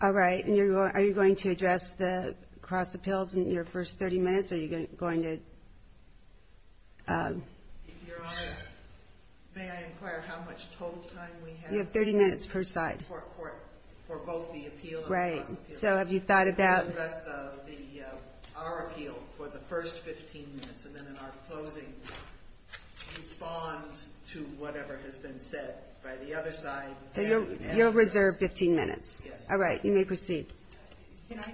Are you going to address the cross-appeals in your first 30 minutes or are you going to... If you're honest, may I inquire how much total time we have? You have 30 minutes per side. For both the appeal and the cross-appeal. Right. So have you thought about... The rest of our appeal for the first 15 minutes and then in our closing, respond to whatever has been said by the other side. You'll reserve 15 minutes. Yes. All right. You may proceed. Can I...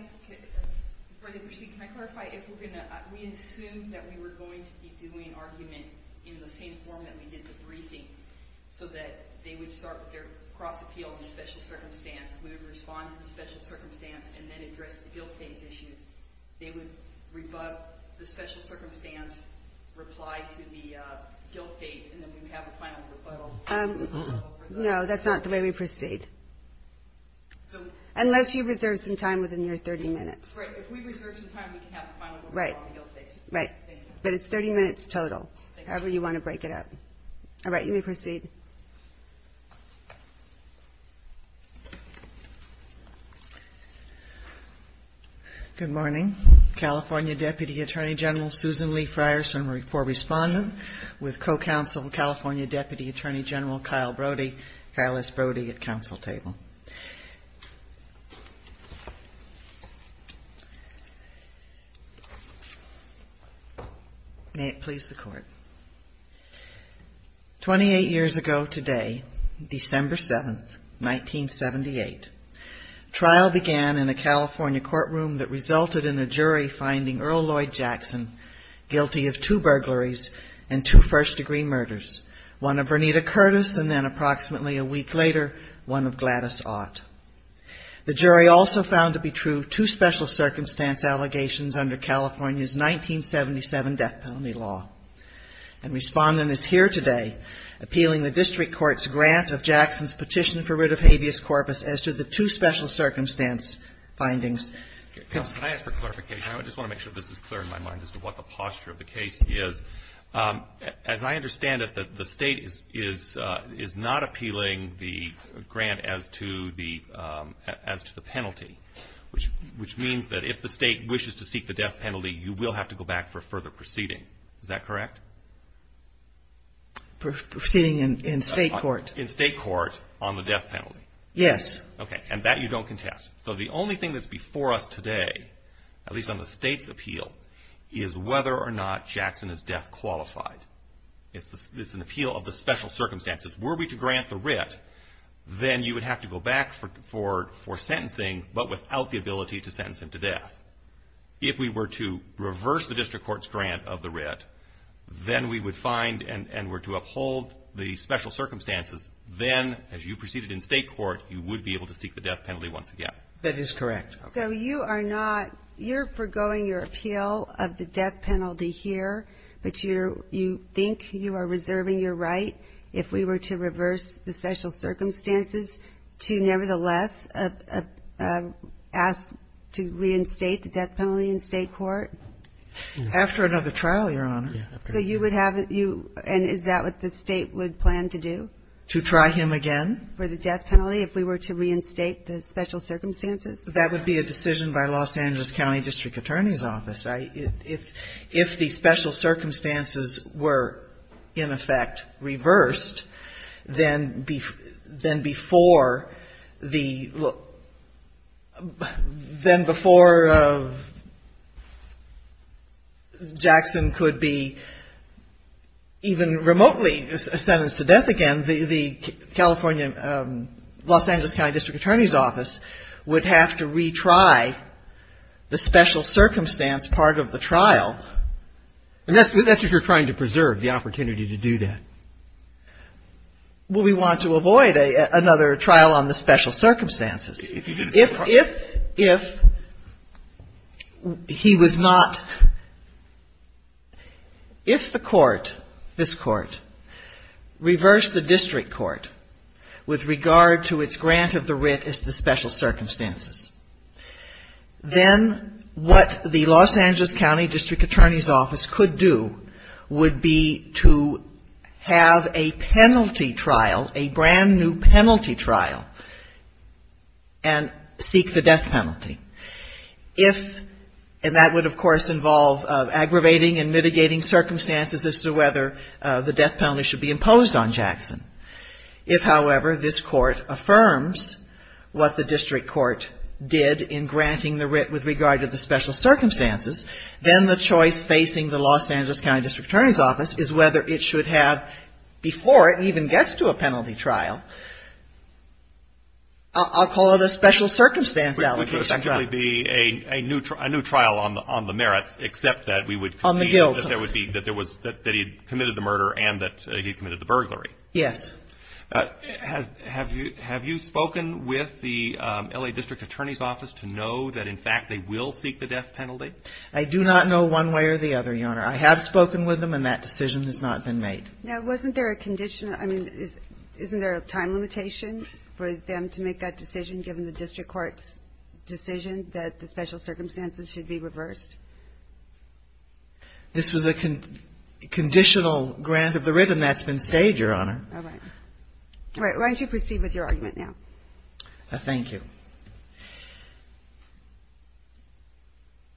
For the proceed, can I clarify if we're going to... We assumed that we were going to be doing arguments in the same form that we did the briefings so that they would start with their cross-appeal in a special circumstance. We would respond in a special circumstance and then address the cross-appeal. No, that's not the way we proceed. Unless you reserve some time within your 30 minutes. Right. If we reserve some time, we can have a final... Right. Right. But it's 30 minutes total. However you want to break it up. All right. You may proceed. Good morning. California Deputy Attorney General Susan Lee Frierson for respondent with co-counsel, California Deputy Attorney General Kyle Brody, Phyllis Brody at council table. May it please the Court. Twenty-eight years ago today, December 7th, 1978, trial began in a California courtroom that resulted in a jury finding Earl Lloyd Jackson guilty of two burglaries and two first-degree murders, one of Bernita Curtis and then approximately a week later, one of Gladys Ott. The jury also found to be true two special circumstance allegations under California's death penalty law and respondent is here today appealing the district court's grant of Jackson's petition for writ of habeas corpus as to the two special circumstance findings. Can I ask for clarification? I just want to make sure this is clear in my mind as to what the posture of the case is. As I understand it, the state is not appealing the grant as to the penalty, which means that if the state wishes to seek the death penalty, you will have to go back for further proceeding. Is that correct? Proceeding in state court. In state court on the death penalty. Yes. Okay. And that you don't contest. So the only thing that's before us today, at least on the state's appeal, is whether or not Jackson is death qualified. It's an appeal of the special circumstances. Were we to grant the writ, then you would have to go back for sentencing but without the ability to sentence him to death. If we were to reverse the district court's grant of the writ, then we would find and were to uphold the special circumstances, then as you proceeded in state court, you would be able to seek the death penalty once again. That is correct. So you are not, you're forgoing your appeal of the death penalty here, but you think you are reserving your right if we were to reverse the special circumstances to nevertheless ask to reinstate the death penalty in state court? After another trial, Your Honor. So you would have, and is that what the state would plan to do? To try him again? For the death penalty, if we were to reinstate the special circumstances? That would be a decision by Los Angeles County District Attorney's Office, right? If the special circumstances were in effect reversed, then before the, then before Jackson could be even remotely sentenced to death again, the California, Los Angeles County District Attorney's Office would have to retry the special circumstance part of the trial. And that's if you're trying to preserve the opportunity to do that. Well, we want to avoid another trial on the special circumstances. If he was not, if the court, this court, reversed the district court with regard to its grant of the writ as the special circumstances, then what the Los Angeles County District Attorney's Office could do would be to have a penalty trial, a brand new penalty trial, and seek the death penalty. If, and that would of course involve aggravating and mitigating circumstances as to whether the death penalty should be imposed on Jackson. If, however, this court affirms what the district court did in granting the writ with regard to the special circumstances, then the choice facing the Los Angeles County District Attorney's Office is whether it should have, before it even gets to a penalty trial, I'll call it a special circumstance allegation. There would effectively be a new trial on the merits, except that we would concede that he committed the murder and that he committed the burglary. Yes. Have you spoken with the L.A. District Attorney's Office to know that in fact they will seek the death penalty? I do not know one way or the other, Your Honor. I have spoken with them and that decision has not been made. Now, wasn't there a condition, I mean, isn't there a time limitation for them to make that decision given the district court's decision that the special circumstances should be reversed? This was a conditional grant of the writ and that's been stayed, Your Honor. All right. Why don't you proceed with your argument now? Thank you.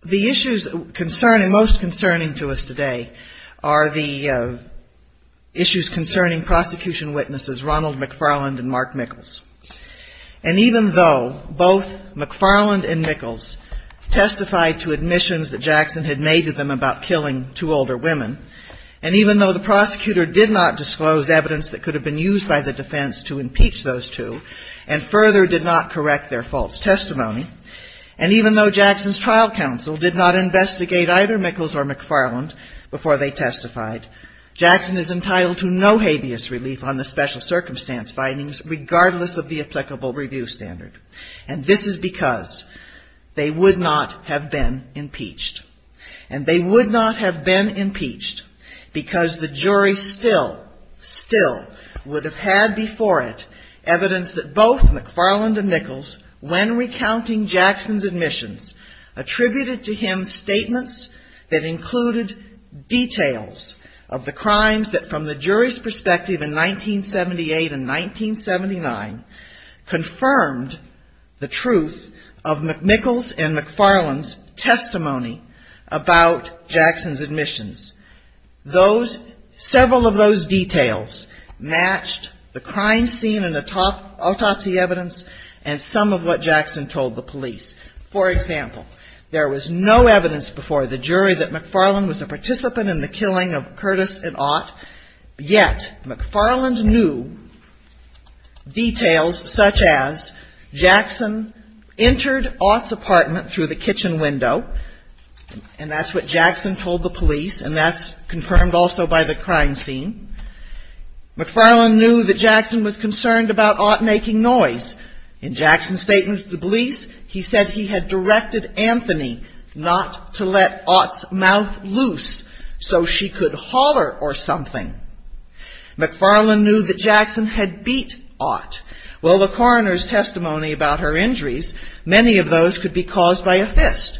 The issues concerning, most concerning to us today are the issues concerning prosecution witnesses, Ronald McFarland and Mark Mickles. And even though both McFarland and Mickles testified to admissions that Jackson had made to them about killing two older women, and even though the prosecutor did not disclose evidence that could have been used by the defense to impeach those two and further did not correct their false testimony, and even though Jackson's trial counsel did not investigate either Mickles or McFarland before they testified, Jackson is entitled to no habeas relief on the special circumstance findings regardless of the applicable review standard. And this is because they would not have been impeached. And they would not have been impeached because the jury still, still would have had before it evidence that both McFarland and Mickles, when recounting Jackson's admissions, attributed to him statements that included details of the crimes that, from the jury's perspective in 1978 and 1979, confirmed the truth of Mickles and McFarland's testimony about Jackson's admissions. Those, several of those details matched the crime scene and the autopsy evidence and some of what Jackson told the police. For example, there was no evidence before the jury that McFarland was a participant in the killing of Curtis and Ott, yet McFarland knew details such as Jackson entered Ott's apartment through the kitchen window, and that's what Jackson told the police, and that's confirmed also by the crime scene. McFarland knew that Jackson was concerned about Ott making noise. In Jackson's statement to the police, he said he had directed Anthony not to let Ott's mouth loose so she could holler or something. McFarland knew that Jackson had beat Ott. Well, the coroner's testimony about her injuries, many of those could be caused by a fist.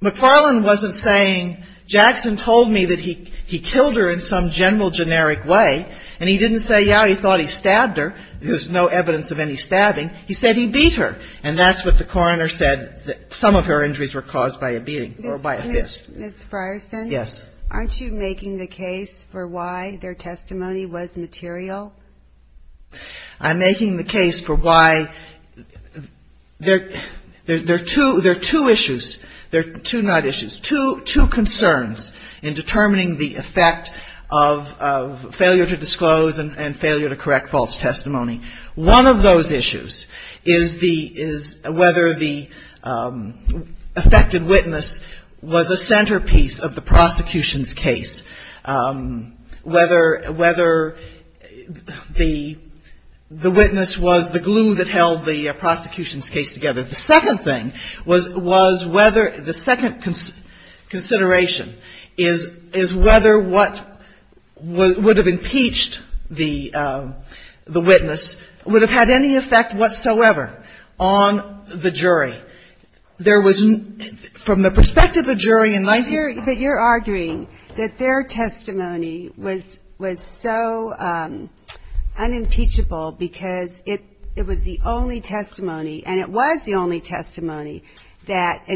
McFarland wasn't saying, Jackson told me that he killed her in some general generic way, and he didn't say, yeah, he thought he stabbed her. There's no evidence of any stabbing. He said he beat her, and that's what the coroner said, that some of her injuries were caused by a beating or by a fist. Ms. Frierson? Yes. Aren't you making the case for why their testimony was material? I'm making the case for why there are two issues. There are two not issues, two concerns in determining the effect of failure to disclose and failure to correct false testimony. One of those issues is whether the affected witness was a centerpiece of the prosecution's case, whether the witness was the glue that held the prosecution's case together. The second thing was whether the second consideration is whether what would have impeached the witness would have had any effect whatsoever on the jury. There was, from the perspective of the jury in my view. But you're arguing that their testimony was so unimpeachable because it was the only testimony, and it was the only testimony that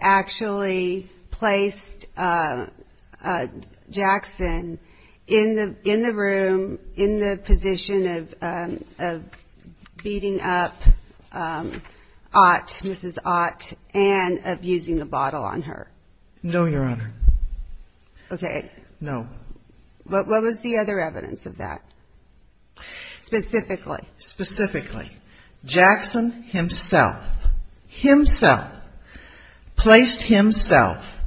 actually placed Jackson in the room, in the position of beating up Ott, Mrs. Ott, and of using the bottle on her. No, Your Honor. Okay. No. What was the other evidence of that, specifically? Specifically. Jackson himself, himself, placed himself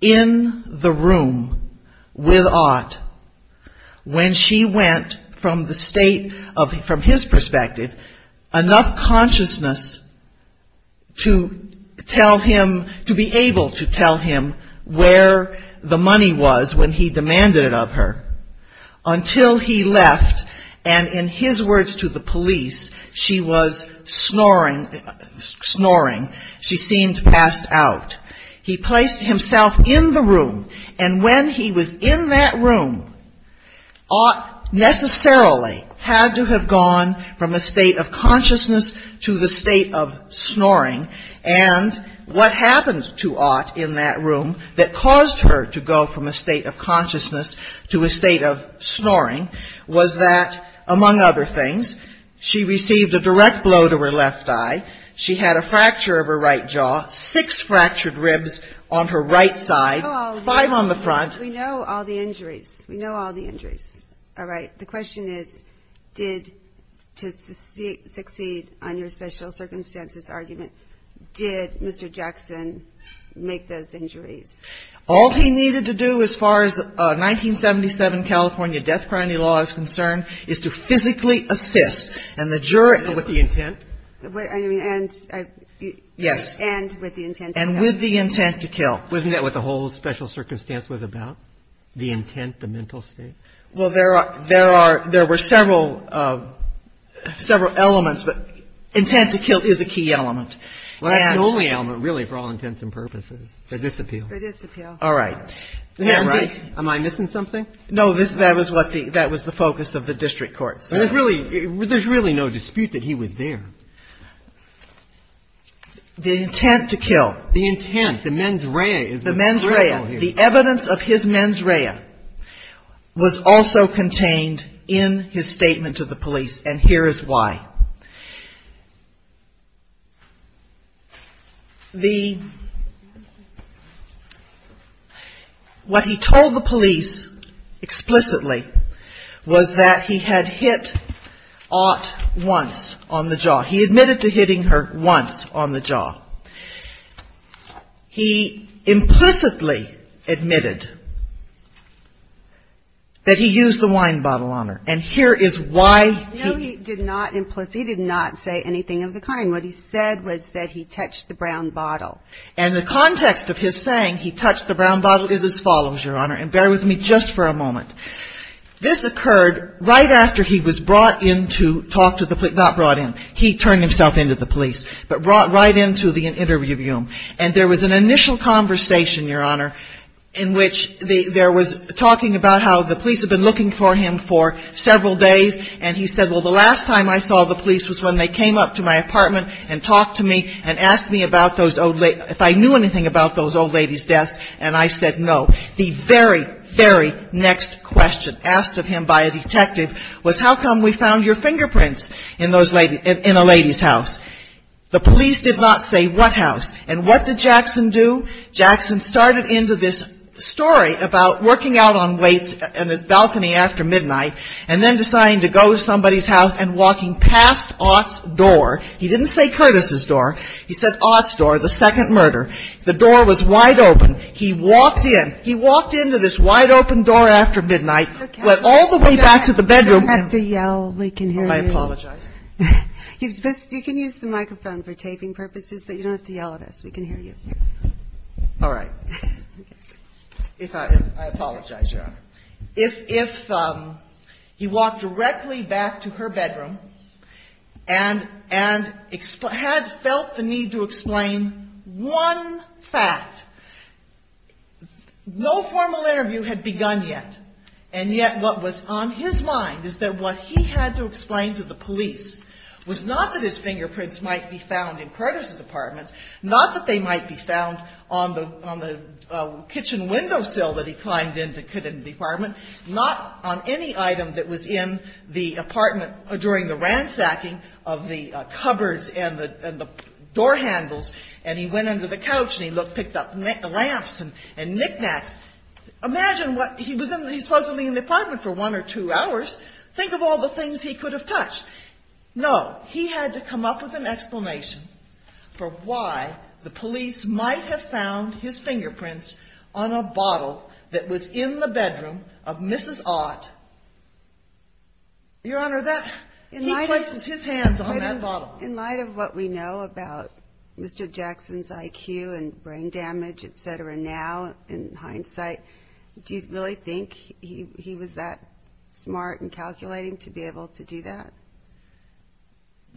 in the room with Ott when she went from the state of, from his perspective, enough consciousness to tell him, to be able to tell him where the money was when he demanded it of her, until he left, and in his words to the police, she was snoring, she seemed passed out. He placed himself in the room, and when he was in that room, Ott necessarily had to have gone from a state of consciousness to the state of snoring, and what happens to Ott in that room that caused her to go from a state of consciousness to a state of snoring was that, among other things, she received a direct blow to her left eye, she had a fracture of her right jaw, six fractured ribs on her right side, five on the front. We know all the injuries. We know all the injuries. All right. The question is, did, to succeed on your special circumstances argument, did Mr. Jackson make those injuries? All he needed to do, as far as 1977 California death penalty law is concerned, is to physically assist, and the jury... With the intent? I mean, and... Yes. And with the intent to kill. And with the intent to kill. Wasn't that what the whole special circumstance was about? The intent, the mental state? Well, there were several elements, but intent to kill is a key element. Well, that's the only element, really, for all intents and purposes. They disappear. They disappear. All right. Am I missing something? No, that was the focus of the district court. There's really no dispute that he was there. The intent to kill. The intent, the mens rea. The mens rea. The mens rea was also contained in his statement to the police, and here is why. What he told the police explicitly was that he had hit Ott once on the jaw. He admitted to hitting her once on the jaw. He implicitly admitted that he used the wine bottle on her, and here is why he... No, he did not implicitly, he did not say anything of the kind. What he said was that he touched the brown bottle. And the context of his saying he touched the brown bottle is as follows, Your Honor, and bear with me just for a moment. This occurred right after he was brought in to talk to the... Not brought in. He turned himself in to the police, but brought right in to the interview room. And there was an initial conversation, Your Honor, in which there was talking about how the police had been looking for him for several days, and he said, well, the last time I saw the police was when they came up to my apartment and talked to me and asked me if I knew anything about those old ladies' deaths, and I said no. The very, very next question asked of him by a detective was, how come we found your fingerprints in a lady's house? The police did not say what house, and what did Jackson do? Jackson started into this story about working out on the balcony after midnight and then deciding to go to somebody's house and walking past Ott's door. He didn't say Curtis's door. He said Ott's door, the second murder. The door was wide open. He walked in. He walked in to this wide open door after midnight, went all the way back to the bedroom. You don't have to yell. We can hear you. I apologize. You can use the microphone for taping purposes, but you don't have to yell at us. All right. I apologize, Your Honor. If he walked directly back to her bedroom and had felt the need to explain one fact, no formal interview had begun yet, and yet what was on his mind is that what he had to explain to the police was not that his fingerprints might be found in Curtis's apartment, not that they might be found on the kitchen window sill that he climbed into Curtis's apartment, not on any item that was in the apartment during the ransacking of the cupboards and the door handles, and he went into the couch and he picked up lamps and knick-knacks. Imagine, he was supposedly in the apartment for one or two hours. Think of all the things he could have touched. No. He had to come up with an explanation for why the police might have found his fingerprints on a bottle that was in the bedroom of Mrs. Ott. Your Honor, he placed his hands on that bottle. In light of what we know about Mr. Jackson's IQ and brain damage, et cetera, now in hindsight, do you really think he was that smart and calculating to be able to do that?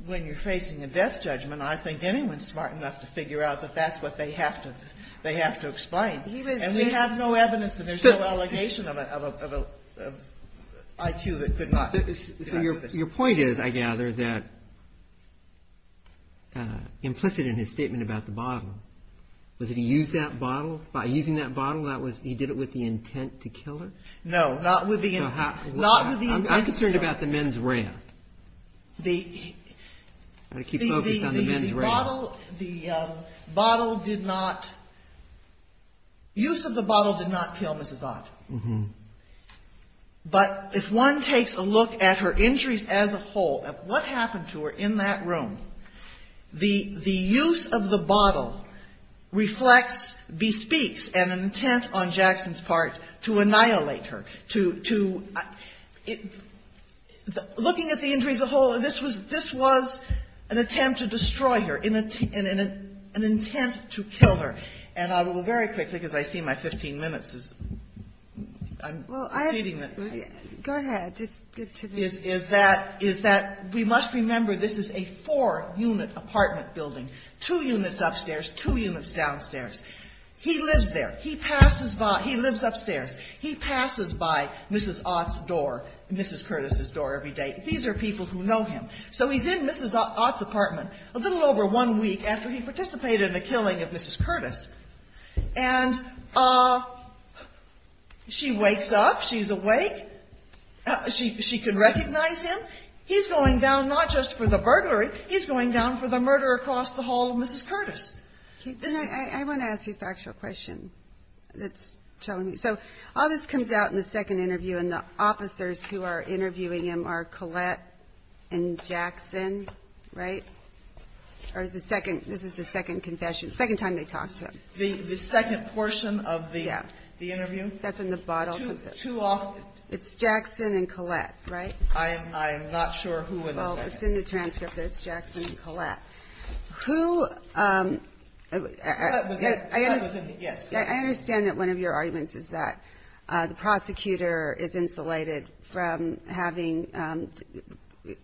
When you're facing a death judgment, I don't think anyone's smart enough to figure out that that's what they have to explain. And they have no evidence and there's no allegation of an IQ that could not. Your point is, I gather, that implicit in his statement about the bottle, was it he used that bottle? By using that bottle, he did it with the intent to kill her? No, not with the intent. I'm just curious about the men's ramp. The bottle did not, use of the bottle did not kill Mrs. Ott. But if one takes a look at her injuries as a whole, at what happened to her in that room, the use of the bottle reflects, bespeaks an intent on Jackson's part to annihilate her, to, looking at the injuries as a whole, this was an attempt to destroy her, an intent to kill her. And I will very quickly, because I see my 15 minutes is, I'm exceeding this. Go ahead. Is that, we must remember this is a four-unit apartment building. Two units upstairs, two units downstairs. He lives there. He passes by, he lives upstairs. He passes by Mrs. Ott's door, Mrs. Curtis's door every day. These are people who know him. So he's in Mrs. Ott's apartment a little over one week after he participated in the killing of Mrs. Curtis. And she wakes up. She's awake. She can recognize him. He's going down not just for the burglary, he's going down for the murder across the hall of Mrs. Curtis. I want to ask you a factual question. So all this comes out in the second interview and the officers who are interviewing him are Colette and Jackson, right? Or is the second, this is the second confession, second time they talked to him. The second portion of the interview? That's in the bottle. Too often. It's Jackson and Colette, right? I am not sure who it is. Well, it's in the transcript. It's Jackson and Colette. Who, I understand that one of your arguments is that the prosecutor is insulated from having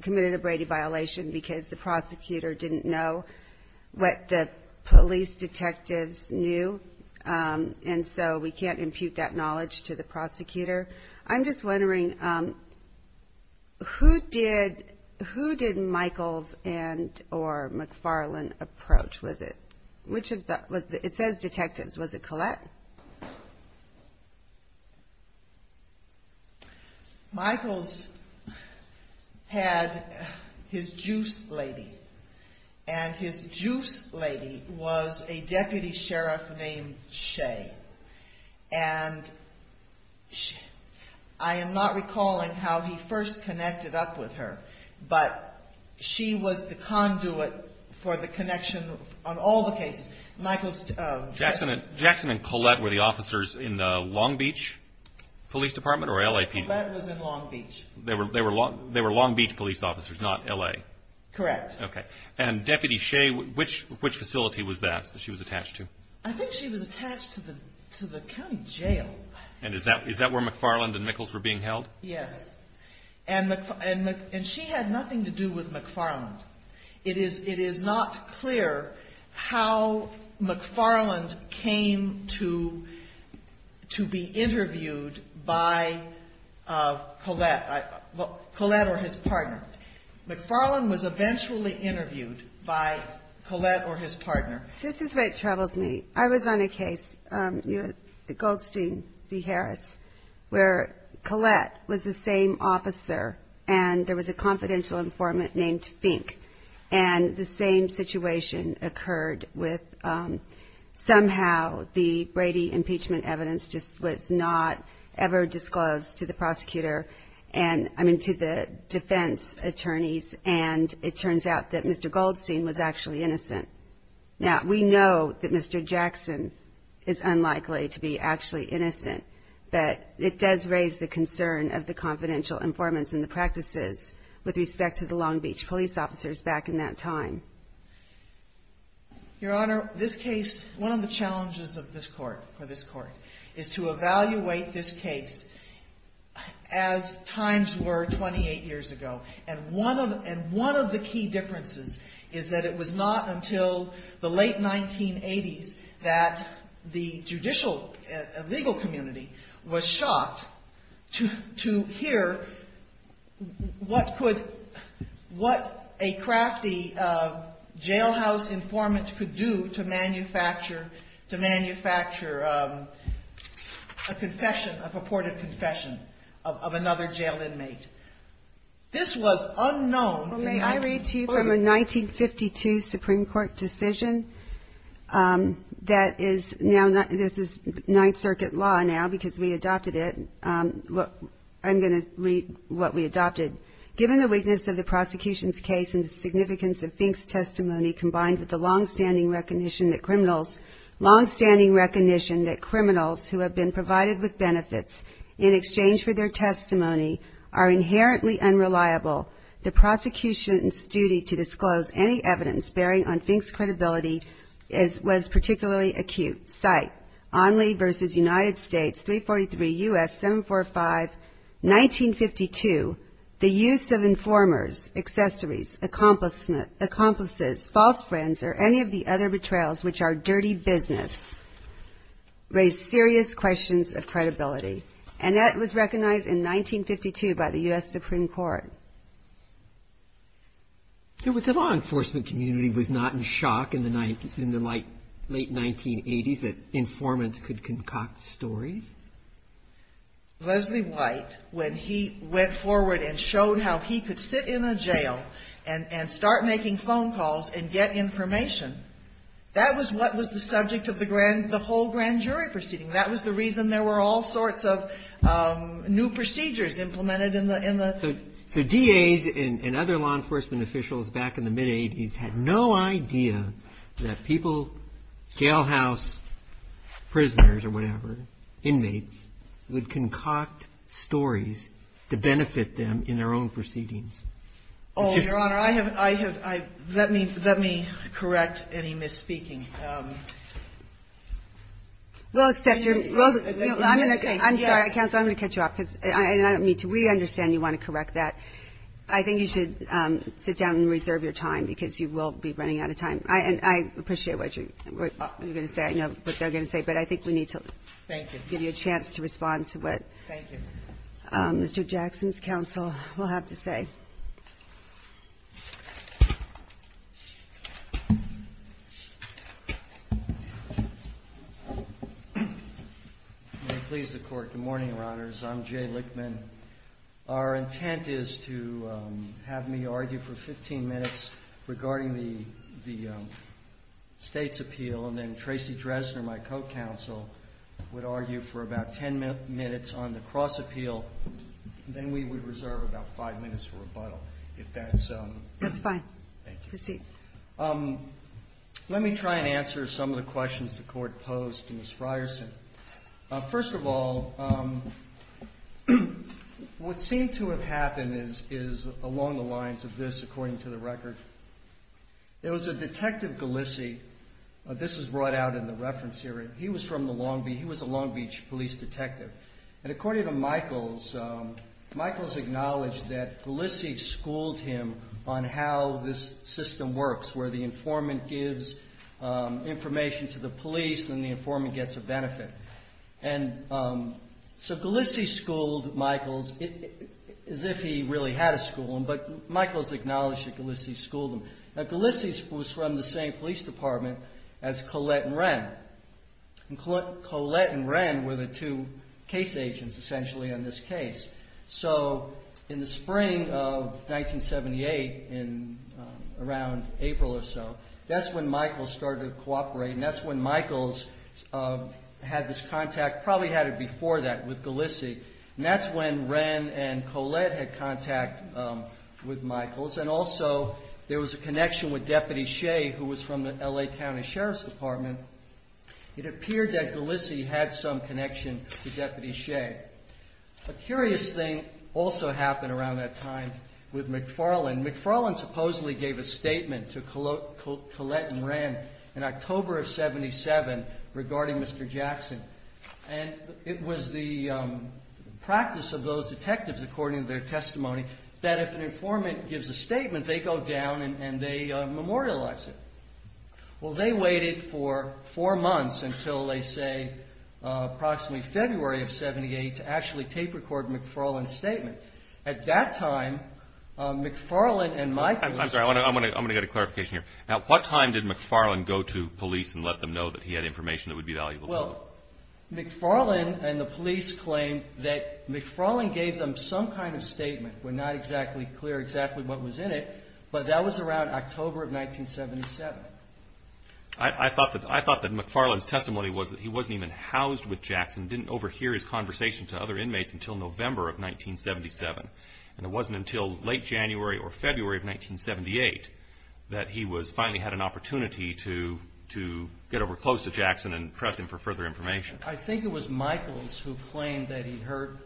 committed a Brady violation because the prosecutor didn't know what the police detectives knew. And so we can't impute that knowledge to the prosecutor. I'm just wondering, who did Michaels and or McFarland approach with it? It says detectives. Was it Colette? Michaels had his juice lady, and his juice lady was a deputy sheriff named Shea. And I am not recalling how he first connected up with her, but she was the conduit for the connection on all the cases. Jackson and Colette were the officers in the Long Beach police department or LAPD? Colette was in Long Beach. They were Long Beach police officers, not L.A.? Correct. Okay. And Deputy Shea, which facility was that that she was attached to? I think she was attached to the county jail. And is that where McFarland and Michaels were being held? Yes. And she had nothing to do with McFarland. It is not clear how McFarland came to be interviewed by Colette or his partner. McFarland was eventually interviewed by Colette or his partner. This is where it troubles me. I was on a case, Goldstein v. Harris, where Colette was the same officer and there was a confidential informant named Fink, and the same situation occurred with somehow the Brady impeachment evidence just was not ever disclosed to the prosecutor and, I mean, to the defense attorneys, and it turns out that Mr. Goldstein was actually innocent. Now, we know that Mr. Jackson is unlikely to be actually innocent, but it does raise the concern of the confidential informants and the practices with respect to the Long Beach police officers back in that time. Your Honor, this case, one of the challenges of this court, for this court, is to evaluate this case as times were 28 years ago, and one of the key differences is that it was not until the late 1980s that the judicial legal community was shocked to hear what a crafty jailhouse informant could do to manufacture a confession, a purported confession, of another jailed inmate. This was unknown. May I read to you from a 1952 Supreme Court decision that is now, this is Ninth Circuit law now because we adopted it. I'm going to read what we adopted. Given the weakness of the prosecution's case and the significance of Fink's testimony combined with the long-standing recognition that criminals, long-standing recognition that criminals who have been provided with benefits in exchange for their testimony are inherently unreliable, the prosecution's duty to disclose any evidence bearing on Fink's credibility was particularly acute. Cite, Onley v. United States, 343 U.S. 745, 1952, the use of informers, accessories, accomplices, false friends, or any of the other betrayals, which are dirty business, raised serious questions of credibility. And that was recognized in 1952 by the U.S. Supreme Court. It was the law enforcement community was not in shock in the late 1980s that informants could concoct stories. Leslie White, when he went forward and showed how he could sit in a jail and start making phone calls and get information, that was what was the subject of the whole grand jury proceeding. That was the reason there were all sorts of new procedures implemented in the... So DAs and other law enforcement officials back in the mid-80s had no idea that people, jailhouse prisoners or whatever, inmates would concoct stories to benefit them in their own proceedings. Your Honor, let me correct any misspeaking. We'll accept your... I'm sorry, counsel, I'm going to cut you off. We understand you want to correct that. I think you should sit down and reserve your time because you will be running out of time. I appreciate what you're going to say. I know what they're going to say, but I think we need to give you a chance to respond to it. Thank you. Mr. Jackson's counsel will have the say. May it please the Court. Good morning, Your Honors. I'm Jay Lichtman. Our intent is to have me argue for 15 minutes regarding the state's appeal, and then Tracy Dresner, my co-counsel, would argue for about 10 minutes on the cross-appeal. Then we would reserve about five minutes for rebuttal, if that's... That's fine. Thank you. Proceed. Let me try and answer some of the questions the Court posed to Ms. Frierson. First of all, what seemed to have happened is along the lines of this, according to the record. It was a Detective Galissi. This is brought out in the reference here. He was from the Long Beach. He was a Long Beach police detective. According to Michaels, Michaels acknowledged that Galissi schooled him on how this system works, where the informant gives information to the police and the informant gets a benefit. Galissi schooled Michaels as if he really had a schooling, but Michaels acknowledged that Galissi schooled him. Galissi was from the same police department as Collette and Wren. Collette and Wren were the two case agents, essentially, in this case. In the spring of 1978, around April or so, that's when Michaels started cooperating. That's when Michaels had this contact, probably had it before that, with Galissi. That's when Wren and Collette had contact with Michaels. Also, there was a connection with Deputy Shea, who was from the L.A. County Sheriff's Department. It appeared that Galissi had some connection to Deputy Shea. A curious thing also happened around that time with McFarland. McFarland supposedly gave a statement to Collette and Wren in October of 1977 regarding Mr. Jackson. It was the practice of those detectives, according to their testimony, that if an informant gives a statement, they go down and they memorialize it. Well, they waited for four months until, they say, approximately February of 1978 to actually tape record McFarland's statement. At that time, McFarland and Michaels... I'm sorry, I'm going to get a clarification here. At what time did McFarland go to police and let them know that he had information that would be valuable? Well, McFarland and the police claimed that McFarland gave them some kind of statement. We're not exactly clear exactly what was in it, but that was around October of 1977. I thought that McFarland's testimony was that he wasn't even housed with Jackson, didn't overhear his conversation to other inmates until November of 1977. It wasn't until late January or February of 1978 that he finally had an opportunity to get up close to Jackson and press him for further information. I think it was Michaels who claimed that he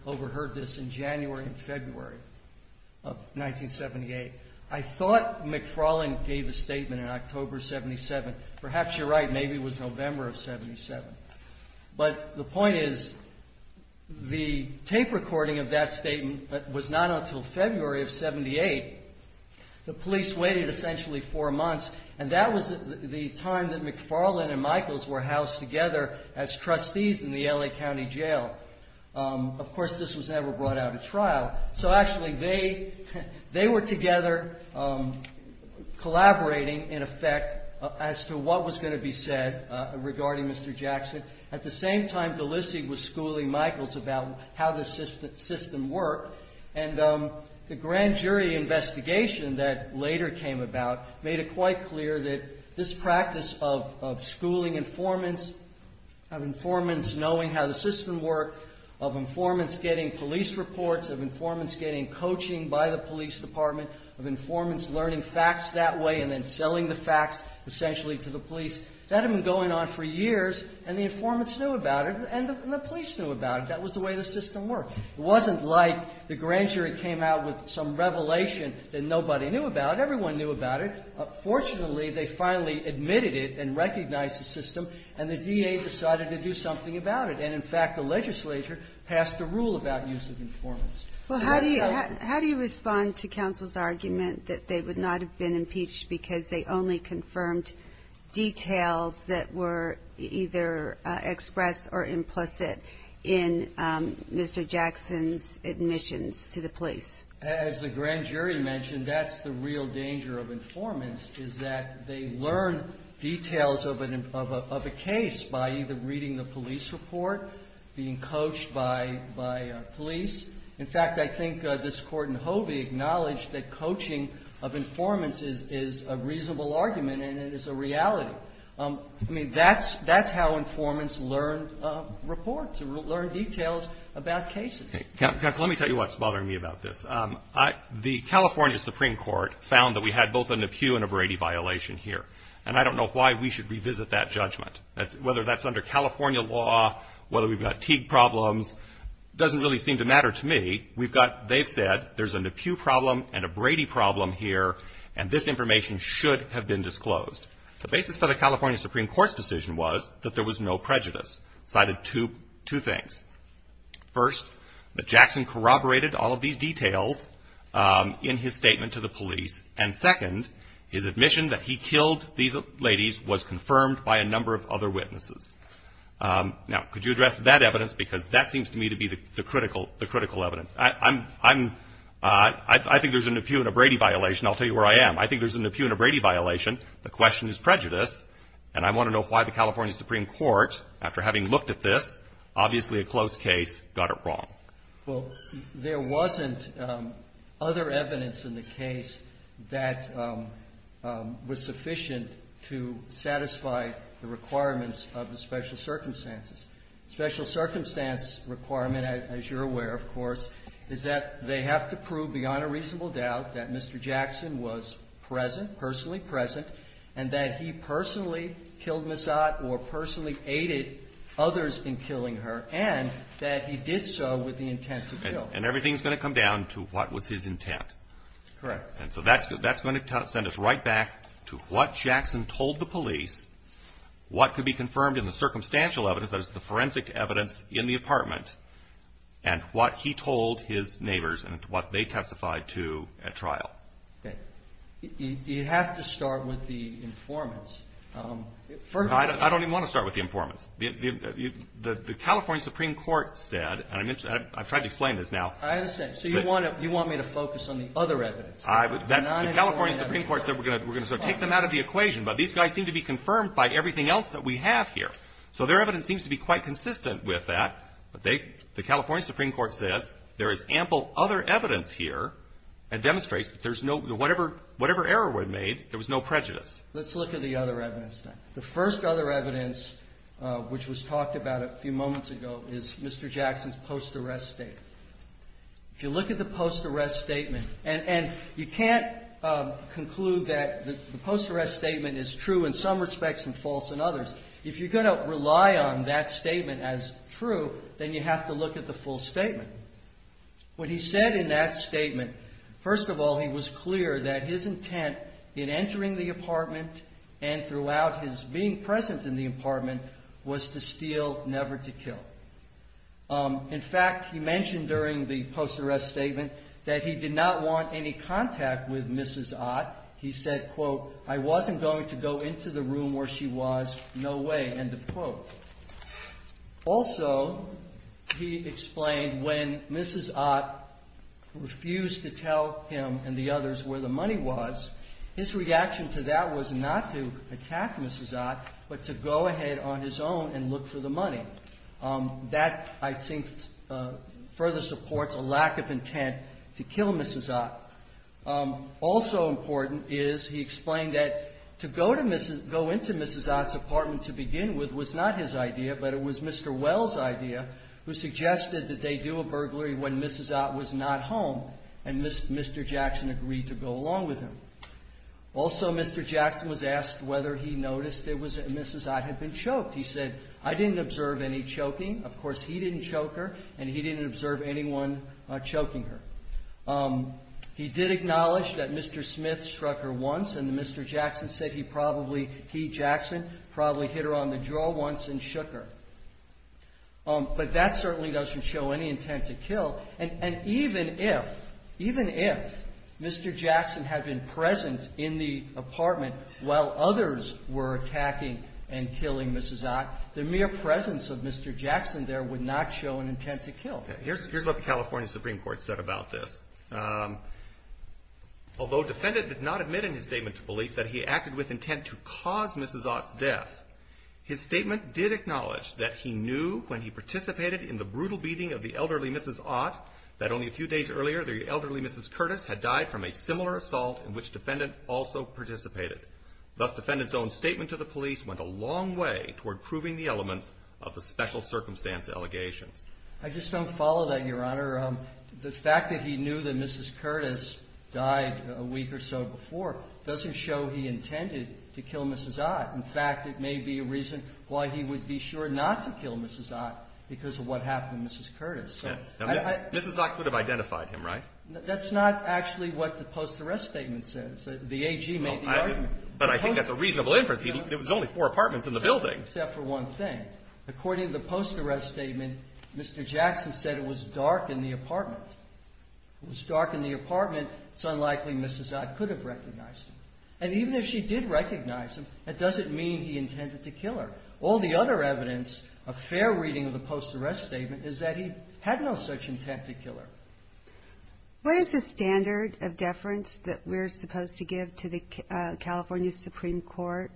overheard this in January and February of 1978. I thought McFarland gave the statement in October of 1977. Perhaps you're right, maybe it was November of 1977. But the point is, the tape recording of that statement was not until February of 1978. The police waited essentially four months. And that was the time that McFarland and Michaels were housed together as trustees in the L.A. County Jail. Of course, this was never brought out at trial. So, actually, they were together collaborating, in effect, as to what was going to be said regarding Mr. Jackson. At the same time, D'Lisi was schooling Michaels about how the system worked. And the grand jury investigation that later came about made it quite clear that this practice of schooling informants, of informants knowing how the system worked, of informants getting police reports, of informants getting coaching by the police department, of informants learning facts that way and then selling the facts, essentially, to the police, that had been going on for years. And the informants knew about it, and the police knew about it. That was the way the system worked. It wasn't like the grand jury came out with some revelation that nobody knew about it. Everyone knew about it. Fortunately, they finally admitted it and recognized the system, and the D.A. decided to do something about it. And, in fact, the legislature passed a rule about use of informants. Well, how do you respond to counsel's argument that they would not have been impeached because they only confirmed details that were either expressed or implicit in Mr. Jackson's admissions to the police? As the grand jury mentioned, that's the real danger of informants, is that they learn details of a case by either reading the police report, being coached by police. In fact, I think this Court in Hovey acknowledged that coaching of informants is a reasonable argument, and it is a reality. I mean, that's how informants learn reports, learn details about cases. Okay. Counsel, let me tell you what's bothering me about this. The California Supreme Court found that we had both an Ippu and a Brady violation here, and I don't know why we should revisit that judgment, whether that's under California law, whether we've got Teague problems, doesn't really seem to matter to me. We've got, they've said, there's an Ippu problem and a Brady problem here, and this information should have been disclosed. The basis of the California Supreme Court's decision was that there was no prejudice, cited two things. First, that Jackson corroborated all of these details in his statement to the police, and, second, his admission that he killed these ladies was confirmed by a number of other witnesses. Now, could you address that evidence, because that seems to me to be the critical evidence. I think there's an Ippu and a Brady violation. I'll tell you where I am. I think there's an Ippu and a Brady violation. The question is prejudice, and I want to know why the California Supreme Court, after having looked at this, obviously a close case, got it wrong. Well, there wasn't other evidence in the case that was sufficient to satisfy the requirements of the special circumstances. The special circumstance requirement, as you're aware, of course, is that they have to prove beyond a reasonable doubt that Mr. Jackson was present, personally present, and that he personally killed Miss Ott or personally aided others in killing her, and that he did so with the intent to kill. And everything's going to come down to what was his intent. Correct. And so that's going to send us right back to what Jackson told the police, what could be confirmed in the circumstantial evidence as the forensic evidence in the apartment, and what he told his neighbors and what they testified to at trial. You have to start with the informants. I don't even want to start with the informants. The California Supreme Court said, and I've tried to explain this now. I understand. So you want me to focus on the other evidence. The California Supreme Court said we're going to take them out of the equation, but these guys seem to be confirmed by everything else that we have here. So their evidence seems to be quite consistent with that. The California Supreme Court said there is ample other evidence here that demonstrates that whatever error was made, there was no prejudice. Let's look at the other evidence. The first other evidence, which was talked about a few moments ago, is Mr. Jackson's post-arrest statement. If you look at the post-arrest statement, and you can't conclude that the post-arrest statement is true in some respects and false in others. If you're going to rely on that statement as true, then you have to look at the full statement. What he said in that statement, first of all, he was clear that his intent in entering the apartment and throughout his being present in the apartment was to steal, never to kill. In fact, he mentioned during the post-arrest statement that he did not want any contact with Mrs. Ott. He said, quote, I wasn't going to go into the room where she was, no way, end of quote. Also, he explained when Mrs. Ott refused to tell him and the others where the money was, his reaction to that was not to attack Mrs. Ott, but to go ahead on his own and look for the money. That, I think, further supports a lack of intent to kill Mrs. Ott. Also important is he explained that to go into Mrs. Ott's apartment to begin with was not his idea, but it was Mr. Wells' idea who suggested that they do a burglary when Mrs. Ott was not home and Mr. Jackson agreed to go along with him. Also, Mr. Jackson was asked whether he noticed that Mrs. Ott had been choked. He said, I didn't observe any choking. Of course, he didn't choke her, and he didn't observe anyone choking her. He did acknowledge that Mr. Smith struck her once, and Mr. Jackson said he probably, he, Jackson, probably hit her on the jaw once and shook her. But that certainly doesn't show any intent to kill, and even if Mr. Jackson had been present in the apartment while others were attacking and killing Mrs. Ott, the mere presence of Mr. Jackson there would not show an intent to kill. Here's what the California Supreme Court said about this. Although defendant did not admit in his statement to police that he acted with intent to cause Mrs. Ott's death, his statement did acknowledge that he knew when he participated in the brutal beating of the elderly Mrs. Ott that only a few days earlier the elderly Mrs. Curtis had died from a similar assault in which defendant also participated. Thus, defendant's own statement to the police went a long way toward proving the element of the special circumstance allegation. I just don't follow that, Your Honor. The fact that he knew that Mrs. Curtis died a week or so before doesn't show he intended to kill Mrs. Ott. In fact, it may be a reason why he would be sure not to kill Mrs. Ott because of what happened to Mrs. Curtis. Mrs. Ott could have identified him, right? That's not actually what the post-arrest statement says. The AG made the argument. But I think that's a reasonable inference. It was only four apartments in the building. Except for one thing. According to the post-arrest statement, Mr. Jackson said it was dark in the apartment. It was dark in the apartment. It's unlikely Mrs. Ott could have recognized him. And even if she did recognize him, that doesn't mean he intended to kill her. All the other evidence of fair reading of the post-arrest statement is that he had no such intent to kill her. What is the standard of deference that we're supposed to give to the California Supreme Court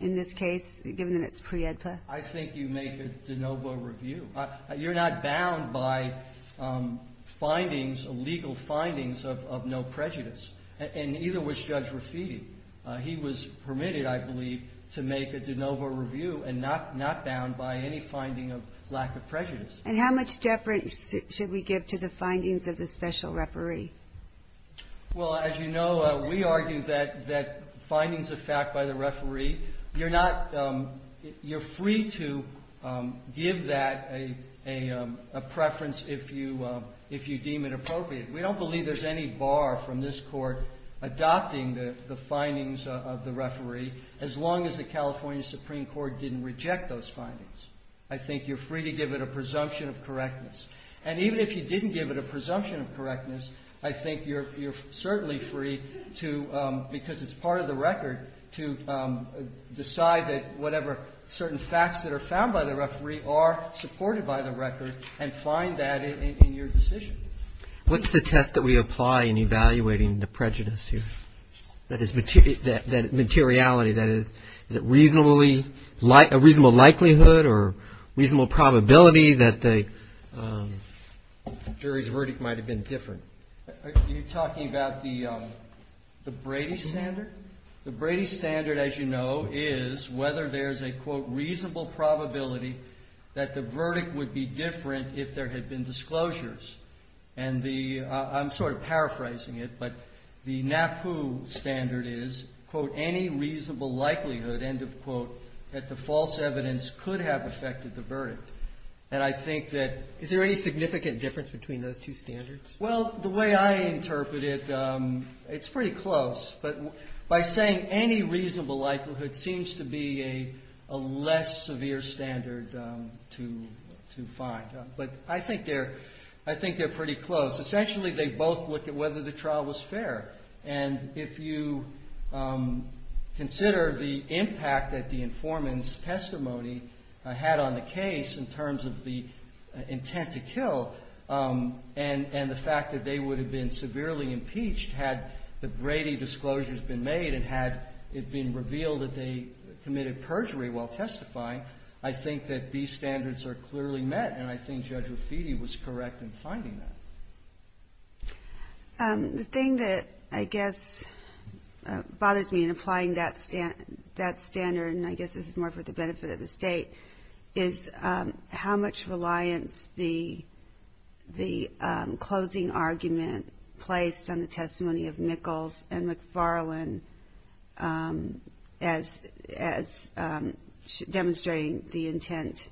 in this case, given that it's pre-EDPA? I think you make a de novo review. You're not bound by legal findings of no prejudice. And neither was Judge Rafied. He was permitted, I believe, to make a de novo review and not bound by any finding of lack of prejudice. And how much deference should we give to the findings of the special referee? Well, as you know, we argue that findings of fact by the referee, you're free to give that a preference if you deem it appropriate. We don't believe there's any bar from this court adopting the findings of the referee, as long as the California Supreme Court didn't reject those findings. I think you're free to give it a presumption of correctness. And even if you didn't give it a presumption of correctness, I think you're certainly free to, because it's part of the record, to decide that whatever certain facts that are found by the referee are supported by the record and find that in your decision. What's the test that we apply in evaluating the prejudice here? That is, materiality. Is it reasonable likelihood or reasonable probability that the jury's verdict might have been different? You're talking about the Brady Standard? The Brady Standard, as you know, is whether there's a, quote, reasonable probability that the verdict would be different if there had been disclosures. I'm sort of paraphrasing it, but the NAPU standard is, quote, any reasonable likelihood, end of quote, that the false evidence could have affected the verdict. And I think that… Is there any significant difference between those two standards? Well, the way I interpret it, it's pretty close. But by saying any reasonable likelihood seems to be a less severe standard to find. But I think they're pretty close. Essentially, they both look at whether the trial was fair. And if you consider the impact that the informant's testimony had on the case in terms of the intent to kill and the fact that they would have been severely impeached had the Brady disclosures been made and had it been revealed that they committed perjury while testifying, I think that these standards are clearly met. And I think Judge Raffitti was correct in finding them. The thing that I guess bothers me in applying that standard, and I guess this is more for the benefit of the State, is how much reliance the closing argument placed on the testimony of Nichols and McFarland as demonstrating the intent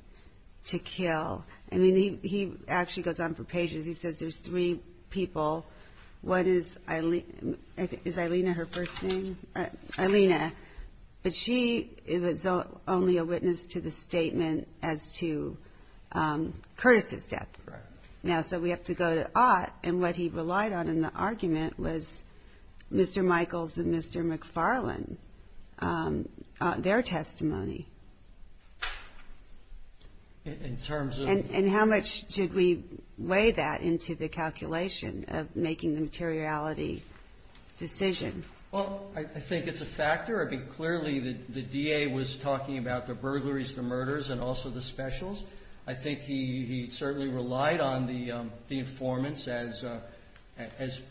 to kill. I mean, he actually goes on for pages. He says there's three people. One is Eileen. Is Eileen her first name? Eileen. But she is only a witness to the statement as to Curtis's death. So we have to go to Ott. And what he relied on in the argument was Mr. Michals and Mr. McFarland, their testimony. And how much should we weigh that into the calculation of making the materiality decisions? Well, I think it's a factor. I mean, clearly the DA was talking about the burglaries, the murders, and also the specials. I think he certainly relied on the informants as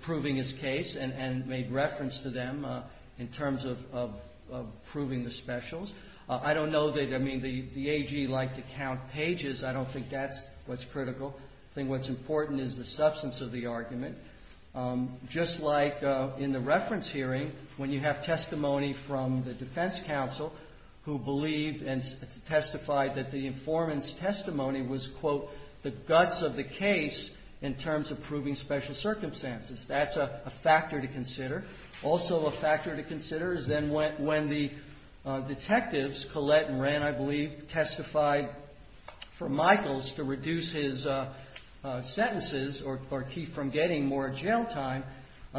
proving his case and made reference to them in terms of proving the specials. I don't know that the AG liked to count pages. I don't think that's what's critical. I think what's important is the substance of the argument. Just like in the reference hearing, when you have testimony from the defense counsel who believed and testified that the informant's testimony was, quote, the guts of the case in terms of proving special circumstances. That's a factor to consider. Also a factor to consider is then when the detectives, Collette and Rand, I believe, testified for Michals to reduce his sentences or keep from getting more jail time,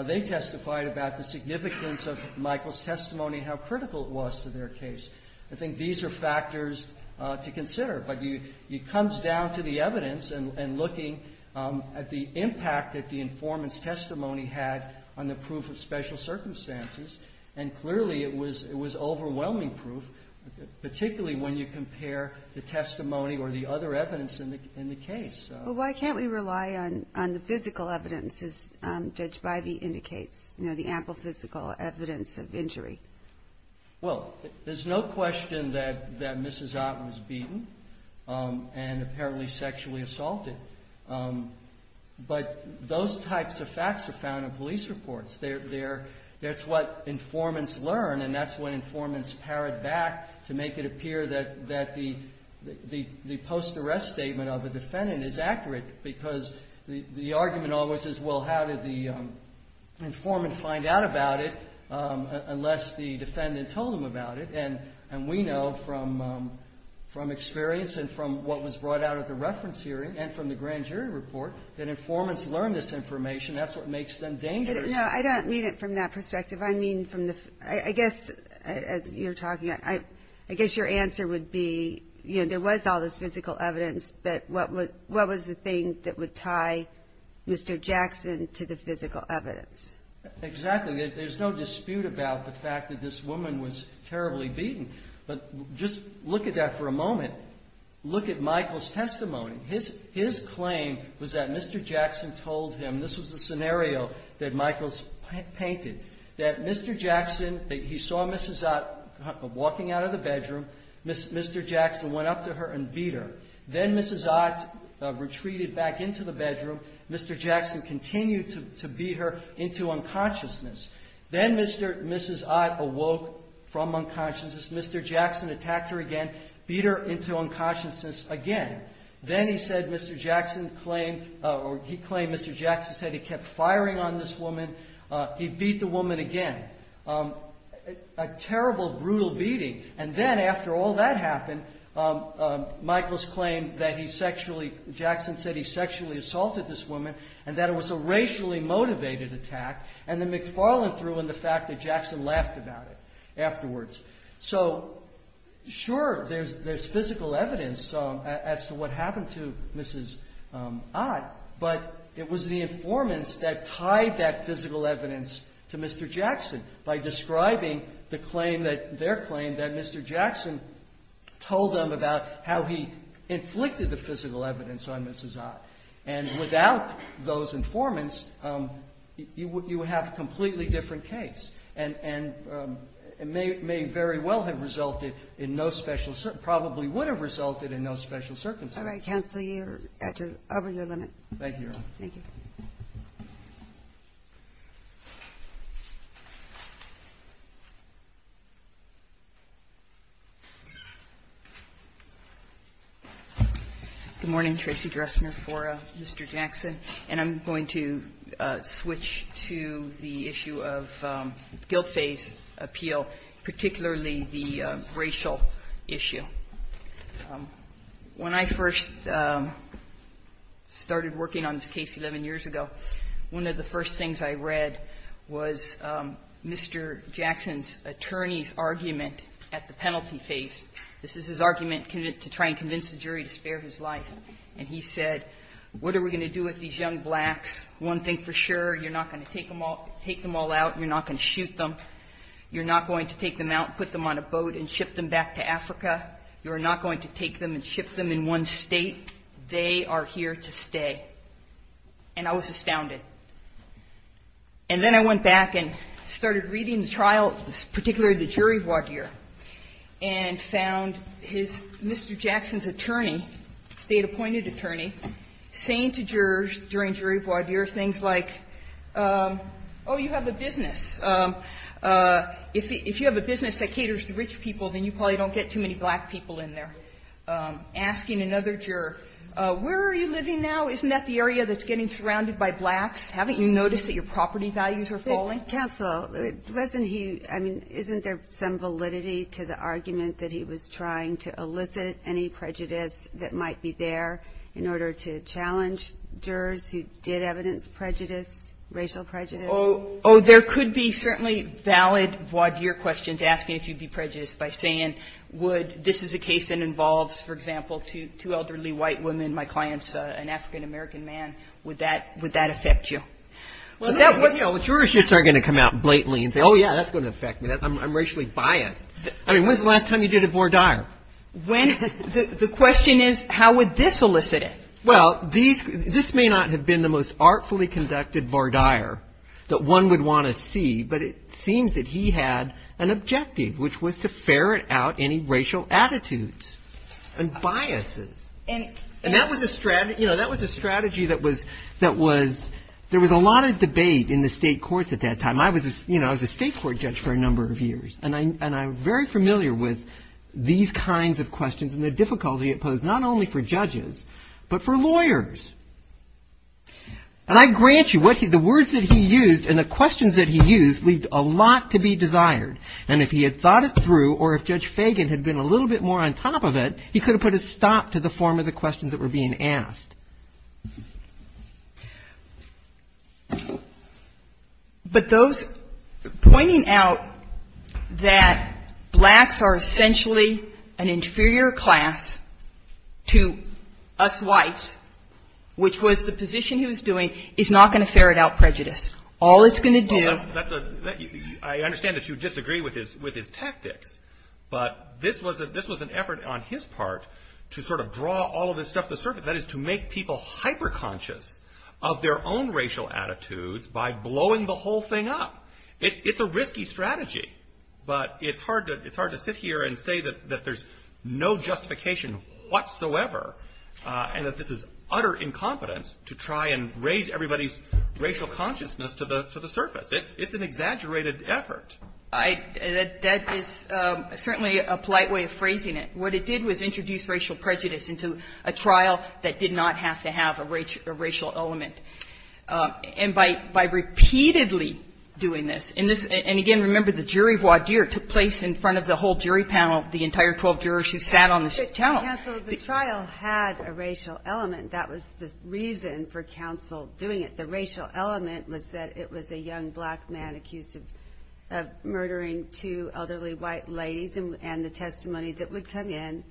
they testified about the significance of Michals' testimony, how critical it was to their case. I think these are factors to consider. But it comes down to the evidence and looking at the impact that the informant's testimony had on the proof of special circumstances. And clearly it was overwhelming proof, particularly when you compare the testimony or the other evidence in the case. Well, why can't we rely on the physical evidence, as Judge Bivey indicates, you know, the ample physical evidence of injury? Well, there's no question that Mrs. Ott was beaten and apparently sexually assaulted. But those types of facts are found in police reports. That's what informants learn and that's what informants parrot back to make it appear that the post-arrest statement of a defendant is accurate because the argument always is, well, how did the informant find out about it unless the defendant told them about it? And we know from experience and from what was brought out of the reference hearing and from the grand jury report that informants learn this information. That's what makes them dangerous. No, I don't mean it from that perspective. I mean from the, I guess, as you're talking, I guess your answer would be, you know, there was all this physical evidence, but what was the thing that would tie Mr. Jackson to the physical evidence? Exactly. There's no dispute about the fact that this woman was terribly beaten. But just look at that for a moment. Look at Michael's testimony. His claim was that Mr. Jackson told him, this was the scenario that Michael's painted, that Mr. Jackson, he saw Mrs. Ott walking out of the bedroom. Mr. Jackson went up to her and beat her. Then Mrs. Ott retreated back into the bedroom. Mr. Jackson continued to beat her into unconsciousness. Then Mrs. Ott awoke from unconsciousness. Mr. Jackson attacked her again, beat her into unconsciousness again. Then he said Mr. Jackson claimed, or he claimed Mr. Jackson said he kept firing on this woman. He beat the woman again. A terrible, brutal beating. And then after all that happened, Michael's claim that he sexually, Jackson said he sexually assaulted this woman and that it was a racially motivated attack. And then McFarland threw in the fact that Jackson laughed about it afterwards. So, sure, there's physical evidence as to what happened to Mrs. Ott, but it was the informants that tied that physical evidence to Mr. Jackson by describing their claim that Mr. Jackson told them about how he inflicted the physical evidence on Mrs. Ott. And without those informants, you would have a completely different case. And it may very well have resulted in no special, probably would have resulted in no special circumstances. All right, counsel, you're over your limit. Thank you. Thank you. Good morning, Tracy Dressner for Mr. Jackson. And I'm going to switch to the issue of guilt-based appeal, particularly the racial issue. When I first started working on this case 11 years ago, one of the first things I read was Mr. Jackson's attorney's argument at the penalty case. This is his argument to try and convince the jury to spare his life. And he said, what are we going to do with these young blacks? One thing for sure, you're not going to take them all out and you're not going to shoot them. You're not going to take them out and put them on a boat and ship them back to Africa. You're not going to take them and ship them in one state. They are here to stay. And I was astounded. And then I went back and started reading the trial, particularly the jury void here, and found Mr. Jackson's attorney, state-appointed attorney, saying to jurors during jury void here things like, oh, you have a business. If you have a business that caters to rich people, then you probably don't get too many black people in there. Asking another juror, where are you living now? Isn't that the area that's getting surrounded by blacks? Haven't you noticed that your property values are falling? Counsel, wasn't he, I mean, isn't there some validity to the argument that he was trying to elicit any prejudice that might be there in order to challenge jurors who did evidence prejudice, racial prejudice? Oh, there could be certainly valid void here questions asking if you'd be prejudiced by saying, would this is a case that involves, for example, two elderly white women, my client's an African-American man. Would that affect you? Well, jurists aren't going to come out blatantly and say, oh, yeah, that's going to affect me. I'm racially biased. I mean, when's the last time you did a voir dire? The question is, how would this elicit it? Well, this may not have been the most artfully conducted voir dire that one would want to see, but it seems that he had an objective, which was to ferret out any racial attitudes and biases. And that was a strategy that was, there was a lot of debate in the state courts at that time. And I was, you know, I was a state court judge for a number of years. And I'm very familiar with these kinds of questions and the difficulty it posed not only for judges, but for lawyers. And I grant you, the words that he used and the questions that he used leaved a lot to be desired. And if he had thought it through or if Judge Fagan had been a little bit more on top of it, he could have put a stop to the form of the questions that were being asked. He was pointing out that blacks are essentially an inferior class to us whites, which was the position he was doing is not going to ferret out prejudice. All it's going to do... I understand that you disagree with his tactics. But this was an effort on his part to sort of draw all of this stuff to the surface. That is to make people hyperconscious of their own racial attitudes by blowing the whole thing up. It's a risky strategy. But it's hard to sit here and say that there's no justification whatsoever. And that this is utter incompetence to try and raise everybody's racial consciousness to the surface. It's an exaggerated effort. That is certainly a polite way of phrasing it. What it did was introduce racial prejudice into a trial that did not have to have a racial element. And by repeatedly doing this, and again, remember the jury voir dire took place in front of the whole jury panel, the entire 12 jurors who sat on the couch. Counsel, the trial had a racial element. That was the reason for counsel doing it. The racial element was that it was a young black man accused of murdering two elderly white ladies and the testimony that would come in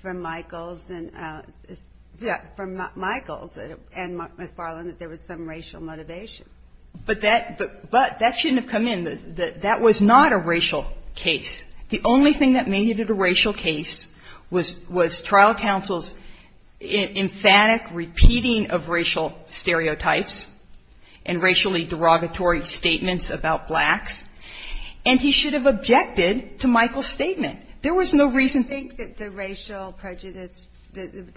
from Michaels and McFarland that there was some racial motivation. But that shouldn't have come in. That was not a racial case. The only thing that made it a racial case was trial counsel's emphatic repeating of racial stereotypes and racially derogatory statements about blacks. And he should have objected to Michael's statement. There was no reason. I think that the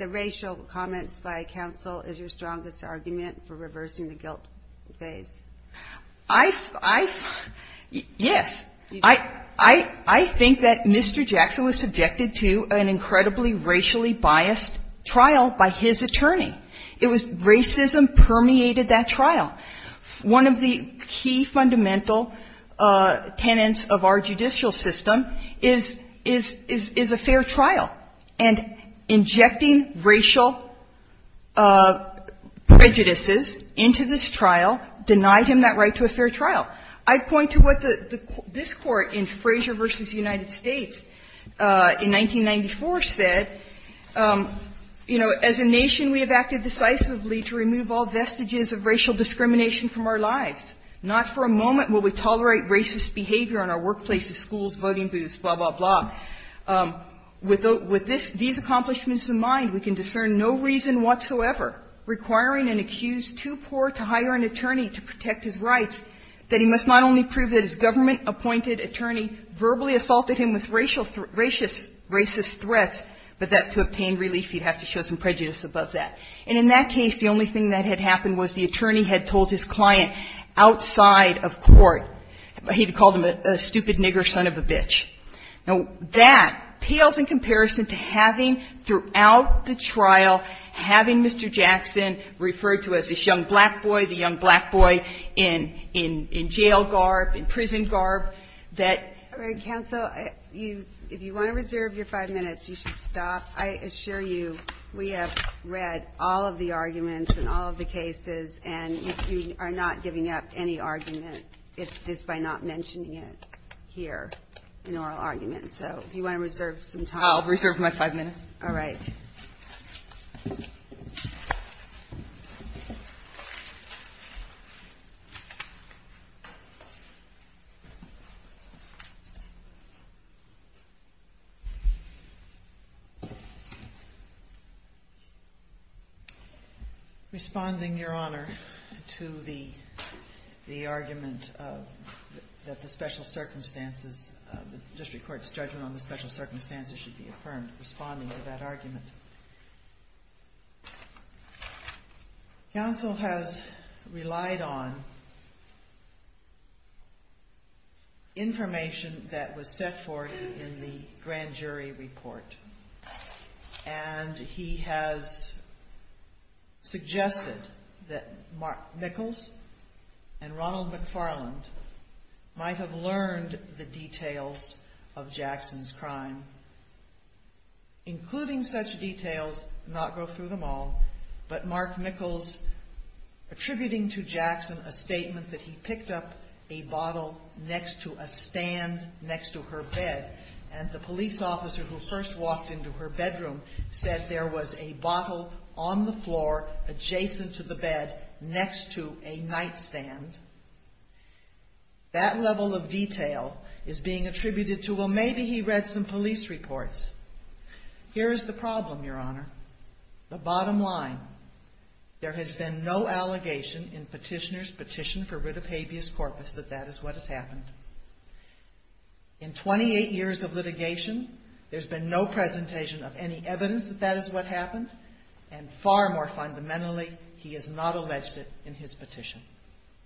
racial comments by counsel is your strongest argument for reversing the guilt phase. Yes. I think that Mr. Jackson was subjected to an incredibly racially biased trial by his attorney. Racism permeated that trial. One of the key fundamental tenets of our judicial system is a fair trial. And injecting racial prejudices into this trial denies him that right to a fair trial. I point to what this court in Frazier v. United States in 1994 said, You know, as a nation we have acted decisively to remove all vestiges of racial discrimination from our lives. Not for a moment will we tolerate racist behavior in our workplaces, schools, voting booths, blah, blah, blah. With these accomplishments in mind, we can discern no reason whatsoever requiring an accused too poor to hire an attorney to protect his rights that he must not only prove that his government appointed attorney verbally assaulted him with racist threats, but that to obtain relief he'd have to show some prejudice about that. And in that case, the only thing that had happened was the attorney had told his client outside of court, he had called him a stupid nigger son of a bitch. Now, that pales in comparison to having throughout the trial, having Mr. Jackson referred to as this young black boy, the young black boy in jail garb, in prison garb, that If you want to reserve your five minutes, you should stop. I assure you we have read all of the arguments in all of the cases, and if you are not giving up any argument, it's just by not mentioning it here in oral arguments. So if you want to reserve some time. I'll reserve my five minutes. All right. Thank you. Responding, Your Honor, to the argument that the special circumstances, the district court's judgment on the special circumstances should be affirmed, responding to that argument. Counsel has relied on information that was set forth in the grand jury report. And he has suggested that Mark Nichols and Ronald McFarland might have learned the details of Jackson's crime. Including such details, not go through them all, but Mark Nichols attributing to Jackson a statement that he picked up a bottle next to a stand next to her bed. And the police officer who first walked into her bedroom said there was a bottle on the floor adjacent to the bed next to a knife stand. That level of detail is being attributed to, well, maybe he read some police reports. Here is the problem, Your Honor. The bottom line. There has been no allegation in petitioner's petition for writ of habeas corpus that that is what has happened. In 28 years of litigation, there's been no presentation of any evidence that that is what happened. And far more fundamentally, he has not alleged it in his petition.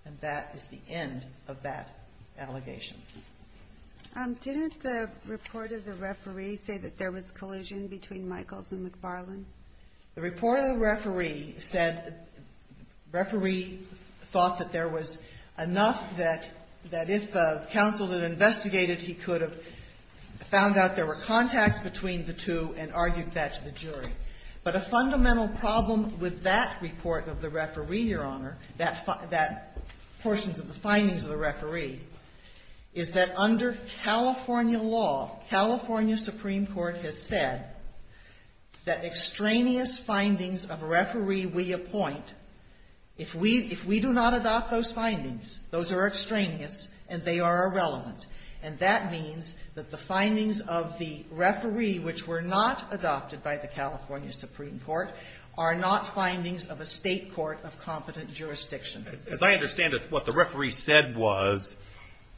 And that is the end of that allegation. Didn't the report of the referee say that there was collision between Nichols and McFarland? The report of the referee said, the referee thought that there was enough that if counsel had investigated, he could have found out there were contacts between the two and argued that to the jury. But a fundamental problem with that report of the referee, Your Honor, that portion of the findings of the referee, is that under California law, California Supreme Court has said that extraneous findings of a referee we appoint, if we do not adopt those findings, those are extraneous and they are irrelevant. And that means that the findings of the referee, which were not adopted by the California Supreme Court, are not findings of a state court of competent jurisdiction. As I understand it, what the referee said was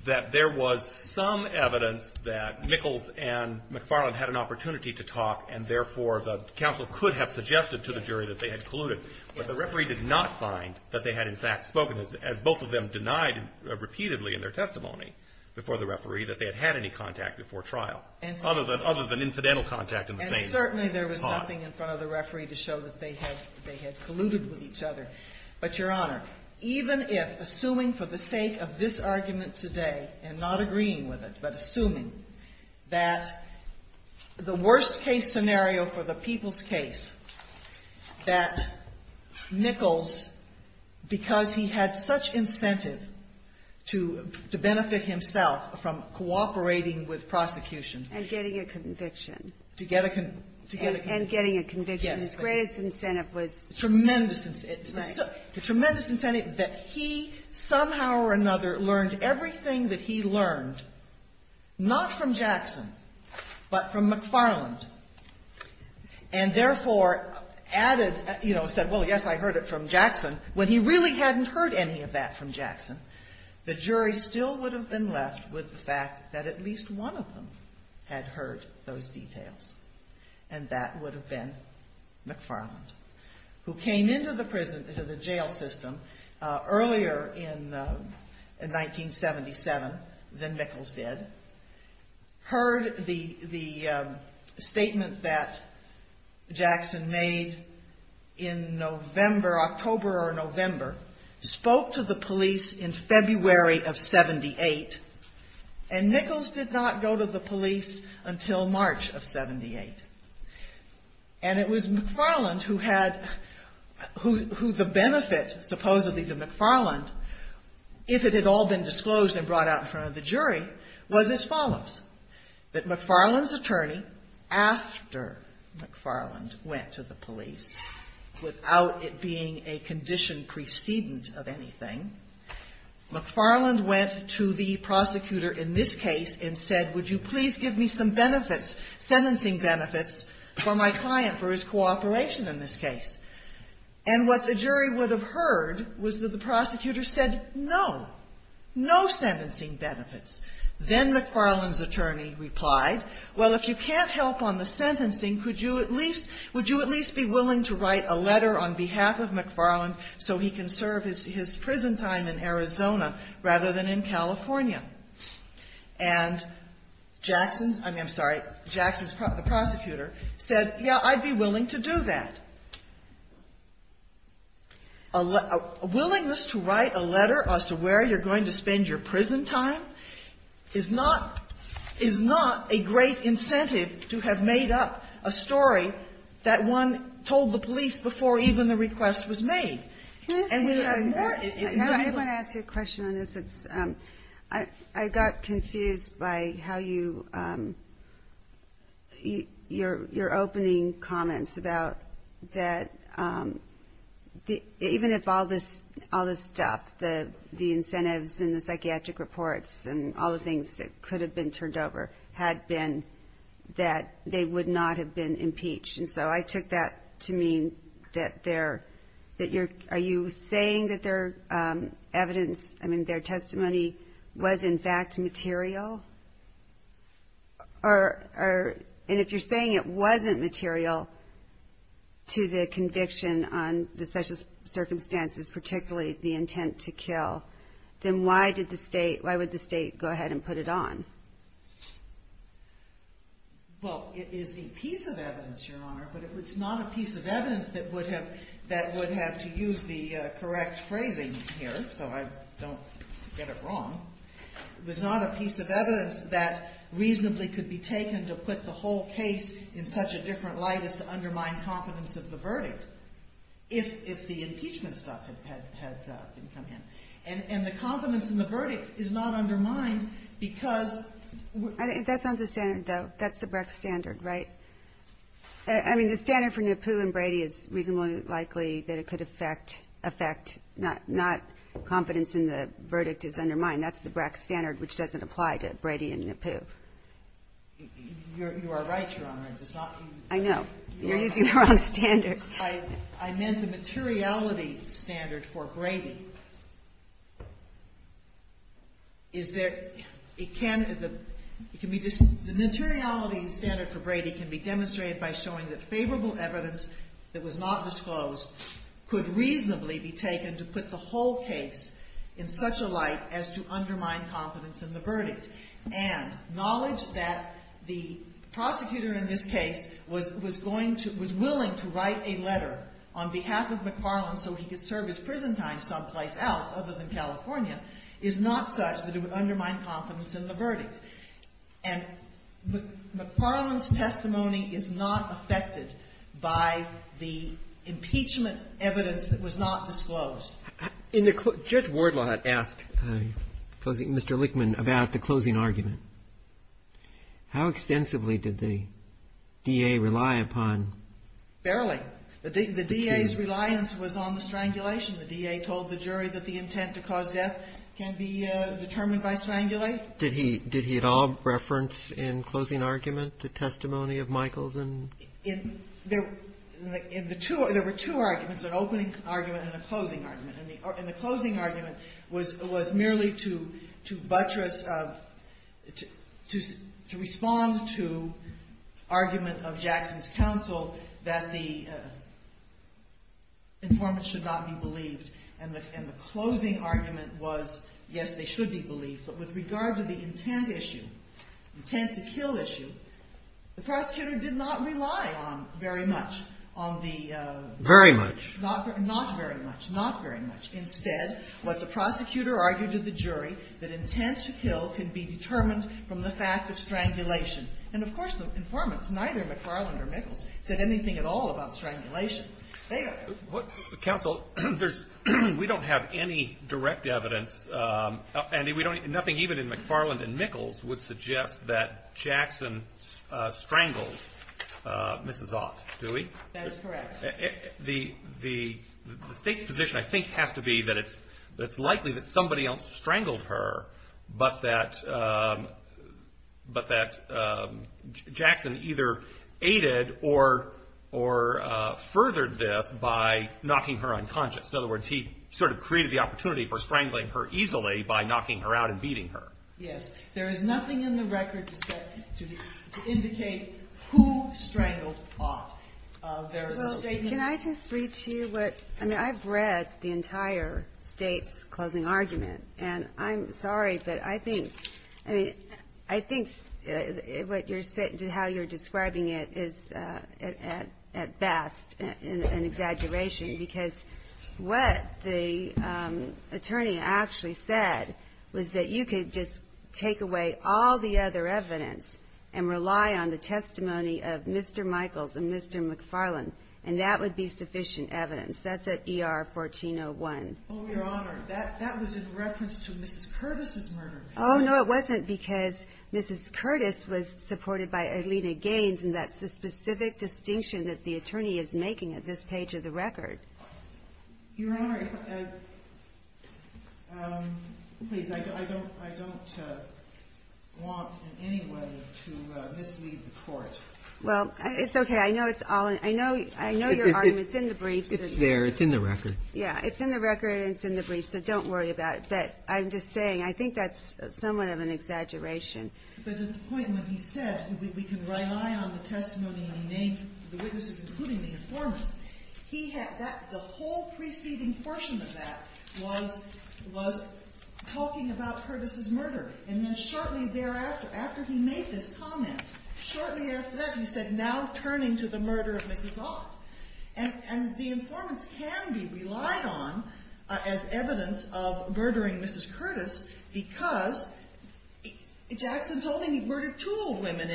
that there was some evidence that Nichols and McFarland had an opportunity to talk and therefore the counsel could have suggested to the jury that they had colluded. But the referee did not find that they had in fact spoken, as both of them denied repeatedly in their testimony before the referee, that they had had any contact before trial, other than incidental contact in the case. And certainly there was nothing in front of the referee to show that they had colluded with each other. But, Your Honor, even if, assuming for the sake of this argument today, and not agreeing with it, but assuming that the worst case scenario for the people's case, that Nichols, because he had such incentive to benefit himself from cooperating with prosecution. And getting a conviction. To get a conviction. And getting a conviction. Yes. His greatest incentive was. Tremendous incentive. Right. Tremendous incentive that he somehow or another learned everything that he learned. Not from Jackson. But from McFarland. And therefore added, you know, said, well, yes, I heard it from Jackson. When he really hadn't heard any of that from Jackson, the jury still would have been left with the fact that at least one of them had heard those details. And that would have been McFarland. Who came into the prison, into the jail system, earlier in 1977 than Nichols did. Heard the statement that Jackson made in November, October or November. Spoke to the police in February of 78. And Nichols did not go to the police until March of 78. And it was McFarland who had, who the benefits supposedly to McFarland, if it had all been disclosed and brought out in front of the jury, was as follows. That McFarland's attorney, after McFarland went to the police, without it being a condition precedence of anything, McFarland went to the prosecutor in this case and said, would you please give me some benefits, sentencing benefits for my client, for his cooperation in this case. And what the jury would have heard was that the prosecutor said, no. No sentencing benefits. Then McFarland's attorney replied, well, if you can't help on the sentencing, could you at least, would you at least be willing to write a letter on behalf of McFarland so he can serve his prison time in Arizona rather than in California. And Jackson, I'm sorry, Jackson, the prosecutor, said, yeah, I'd be willing to do that. A willingness to write a letter as to where you're going to spend your prison time is not, is not a great incentive to have made up a story that one told the police before even the request was made. I want to ask you a question on this. I got confused by how you, your opening comments about that, even if all this stuff, the incentives and the psychiatric reports and all the things that could have been turned over had been that they would not have been impeached. And so I took that to mean that they're, that you're, are you saying that their evidence, I mean, their testimony was in fact material? Or, and if you're saying it wasn't material to the conviction on the special circumstances, particularly the intent to kill, then why did the state, why would the state go ahead and put it on? Well, it is a piece of evidence, Your Honor, but it's not a piece of evidence that would have, that would have to use the correct phrasing here, so I don't get it wrong. It was not a piece of evidence that reasonably could be taken to put the whole case in such a different light as to undermine confidence of the verdict. If the impeachment stuff has, and the confidence in the verdict is not undermined because... That's not the standard, though. That's the BRAC standard, right? I mean, the standard for Nippu and Brady is reasonably likely that it could affect, affect, not confidence in the verdict is undermined. That's the BRAC standard, which doesn't apply to Brady and Nippu. You are right, Your Honor. I know. You're using the wrong standard. I meant the materiality standard for Brady. Is there, it can, it can be, the materiality standard for Brady can be demonstrated by showing that favorable evidence that was not disclosed could reasonably be taken to put the whole case in such a light as to undermine confidence in the verdict. And knowledge that the prosecutor in this case was going to, was willing to write a letter on behalf of McFarland so he could serve his prison time someplace else other than California is not such that it would undermine confidence in the verdict. And McFarland's testimony is not affected by the impeachment evidence that was not disclosed. In the, Judge Wardlaw had asked Mr. Lichtman about the closing argument. How extensively did the DA rely upon? Barely. The DA's reliance was on the strangulation. The DA told the jury that the intent to cause death can be determined by strangulation. Did he, did he at all reference in closing argument the testimony of Michaels and? There were two arguments, an opening argument and a closing argument. And the closing argument was merely to buttress, to respond to argument of Jackson's counsel that the informants should not be believed. And the closing argument was, yes, they should be believed. But with regard to the intent issue, intent to kill issue, the prosecutor did not rely on very much on the. Very much. Not, not very much, not very much. Instead, what the prosecutor argued to the jury, that intent to kill can be determined from the fact of strangulation. And of course, the informants, neither McFarland or Michaels, said anything at all about strangulation. Counsel, there's, we don't have any direct evidence. Andy, we don't, nothing even in McFarland and Michaels would suggest that Jackson strangled Mrs. Ost, do we? That is correct. The, the, the position I think has to be that it's likely that somebody else strangled her, but that, but that Jackson either aided or, or furthered this by knocking her unconscious. In other words, he sort of created the opportunity for strangling her easily by knocking her out and beating her. Yes. There is nothing in the record to indicate who strangled Ost. Counsel, can I just read to you what, I mean, I've read the entire state's closing argument. And I'm sorry, but I think, I mean, I think what you're, how you're describing it is at best an exaggeration. Because what the attorney actually said was that you could just take away all the other evidence and rely on the testimony of Mr. Michaels and Mr. McFarland, and that would be sufficient evidence. That's at ER 1401. Oh, Your Honor, that, that was in reference to Mrs. Curtis' murder. Oh, no, it wasn't because Mrs. Curtis was supported by Alita Gaines, and that's the specific distinction that the attorney is making at this page of the record. Your Honor, as, please, I don't, I don't want in any way to mislead the court. Well, it's okay. I know it's all, I know, I know your argument's in the brief. It's there. It's in the record. Yeah, it's in the record and it's in the brief, so don't worry about it. But I'm just saying, I think that's somewhat of an exaggeration. There's a point that he said we can rely on the testimony of the witness, including the informant. He had that, the whole preceding portion of that was, was talking about Curtis' murder, and then shortly thereafter, after he made this comment, shortly after that he said, now turn into the murder of Mrs. Ross. And the informant can be relied on as evidence of murdering Mrs. Curtis, because Jackson's only murdered two old women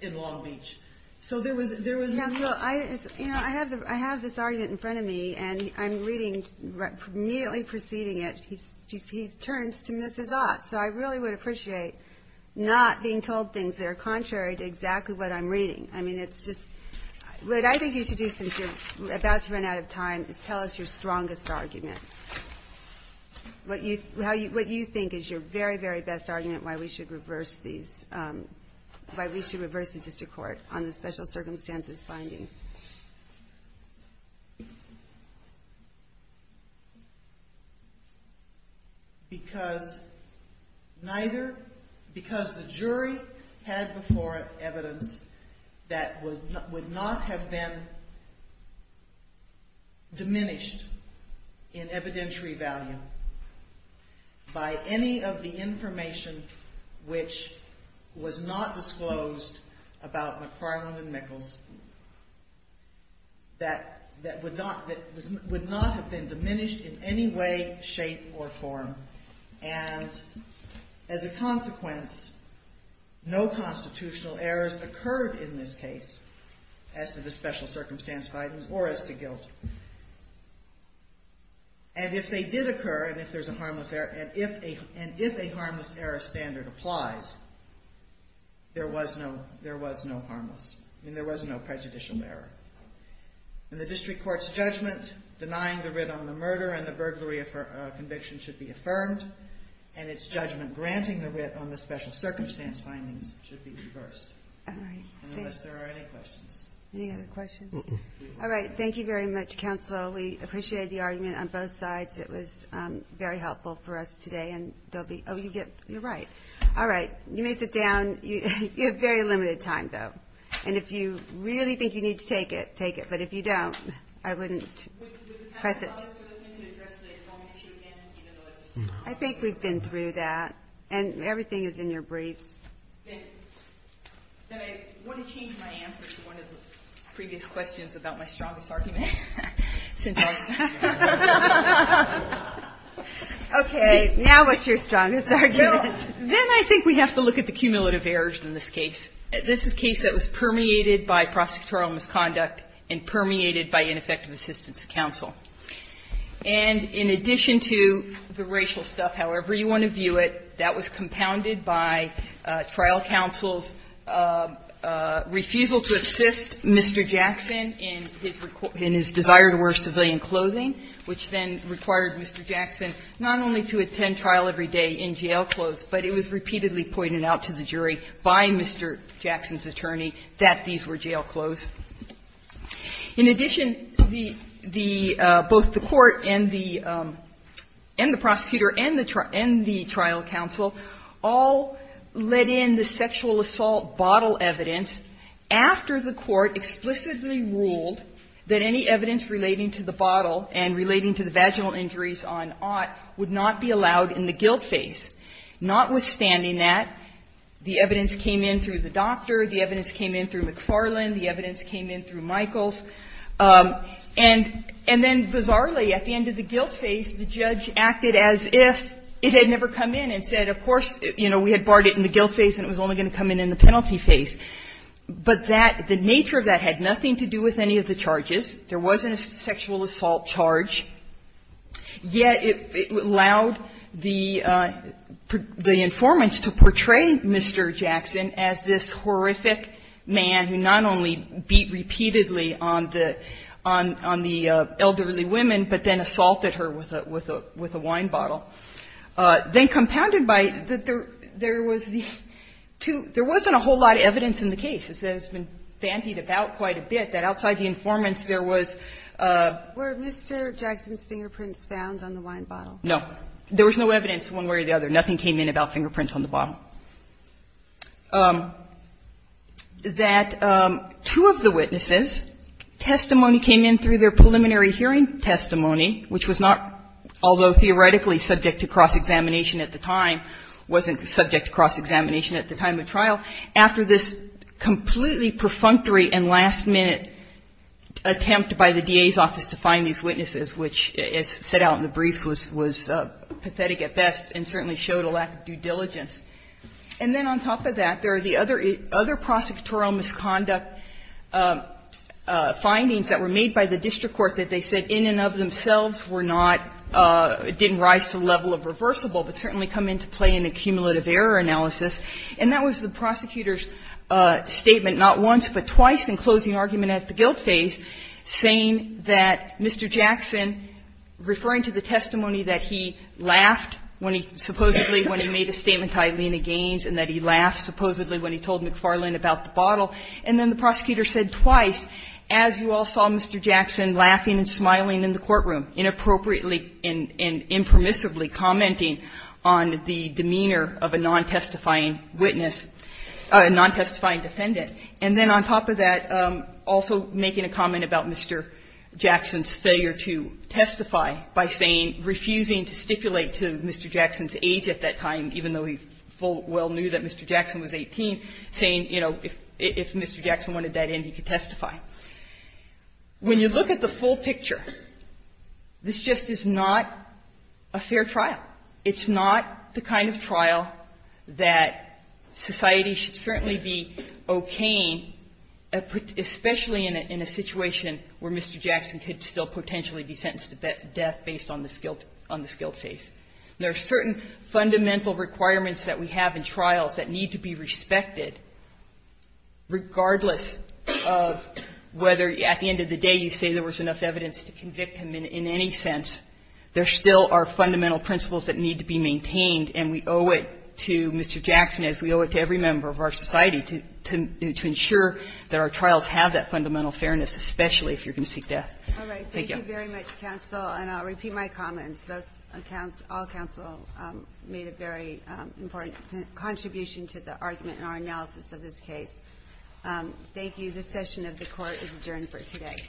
in Long Beach. So there was, there was, Yeah, well, I, you know, I have the, I have this argument in front of me, and I'm reading, immediately preceding it, he, he turns to Mrs. Ross. So I really would appreciate not being told things that are contrary to exactly what I'm reading. I mean, it's just, what I think you should do, since you're about to run out of time, is tell us your strongest argument. What you, how you, what you think is your very, very best argument why we should reverse these, why we should reverse the district court on the special circumstances findings. Because neither, because the jury had before it evidence that would not have been diminished in evidentiary value by any of the information which was not disclosed about McFarland and Nichols, that, that would not, that would not have been diminished in any way, shape, or form. And as a consequence, no constitutional errors occurred in this case, as to the special circumstance findings, or as to guilt. And if they did occur, and if there's a harmless error, and if a, and if a harmless error standard applies, there was no, there was no harmless, and there was no prejudicial error. In the district court's judgment, denying the writ on the murder and the burglary of her conviction should be affirmed, and its judgment granting the writ on the special circumstance findings should be reversed. Unless there are any questions. All right, thank you very much. Thank you, Mr. Counsel. We appreciate the argument on both sides. It was very helpful for us today, and they'll be, oh, you get, you're right. All right, you may sit down. You have very limited time, though. And if you really think you need to take it, take it. But if you don't, I wouldn't press it. I think we've been through that. And everything is in your brief. I want to change my answer to one of the previous questions about my strongest argument. Okay, now what's your strongest argument? Then I think we have to look at the cumulative errors in this case. This is a case that was permeated by prosecutorial misconduct and permeated by ineffective assistance to counsel. And in addition to the racial stuff, however you want to view it, that was compounded by trial counsel's refusal to assist Mr. Jackson in his desire to work today in clothing, which then required Mr. Jackson not only to attend trial every day in jail clothes, but it was repeatedly pointed out to the jury by Mr. Jackson's attorney that these were jail clothes. In addition, both the court and the prosecutor and the trial counsel all let in the sexual assault bottle evidence after the court explicitly ruled that any evidence relating to the bottle and relating to the vaginal injuries on Ott would not be allowed in the guilt phase. Notwithstanding that, the evidence came in through the doctor, the evidence came in through McFarland, the evidence came in through Michaels. And then bizarrely, at the end of the guilt phase, the judge acted as if it had never come in and said, of course, you know, we had barred it in the guilt phase and it was only going to come in in the penalty phase. But the nature of that had nothing to do with any of the charges. There wasn't a sexual assault charge. Yet it allowed the informant to portray Mr. Jackson as this horrific man who not only beat repeatedly on the elderly women, but then assaulted her with a wine bottle. Then compounded by that there was these two, there wasn't a whole lot of evidence in the case. There's been fancied about quite a bit that outside the informants there was... Were Mr. Jackson's fingerprints found on the wine bottle? No. There was no evidence one way or the other. Nothing came in about fingerprints on the bottle. That two of the witnesses' testimony came in through their preliminary hearing testimony, which was not, although theoretically subject to cross-examination at the time, after this completely perfunctory and last-minute attempt by the DA's office to find these witnesses, which it set out in the brief was pathetic at best and certainly showed a lack of due diligence. And then on top of that, there are the other prosecutorial misconduct findings that were made by the district court that they said in and of themselves were not, didn't rise to the level of reversible, but certainly come into play in the cumulative error analysis. And that was the prosecutor's statement not once but twice in closing argument at the guilt stage, saying that Mr. Jackson, referring to the testimony that he laughed when he supposedly, when he made a statement to Eileen Gaines and that he laughed supposedly when he told McFarland about the bottle. And then the prosecutor said twice, as you all saw Mr. Jackson laughing and smiling in the courtroom, inappropriately and impermissibly commenting on the demeanor of a non-testifying witness, a non-testifying defendant. And then on top of that, also making a comment about Mr. Jackson's failure to testify by saying, refusing to stipulate to Mr. Jackson's age at that time, even though he full well knew that Mr. Jackson was 18, saying, you know, if Mr. Jackson wanted that in, he could testify. When you look at the full picture, this just is not a fair trial. It's not the kind of trial that society should certainly be okaying, especially in a situation where Mr. Jackson could still potentially be sentenced to death based on the guilt stage. There are certain fundamental requirements that we have in trials that need to be respected, regardless of whether at the end of the day you say there was enough evidence to convict him in any sense. There still are fundamental principles that need to be maintained, and we owe it to Mr. Jackson, as we owe it to every member of our society, to ensure that our trials have that fundamental fairness, especially if you're going to seek death. Thank you. All right. Thank you very much, counsel. And I'll repeat my comments. All counsel made a very important contribution to the argument and our analysis of this case. Thank you. This session of the court is adjourned for today.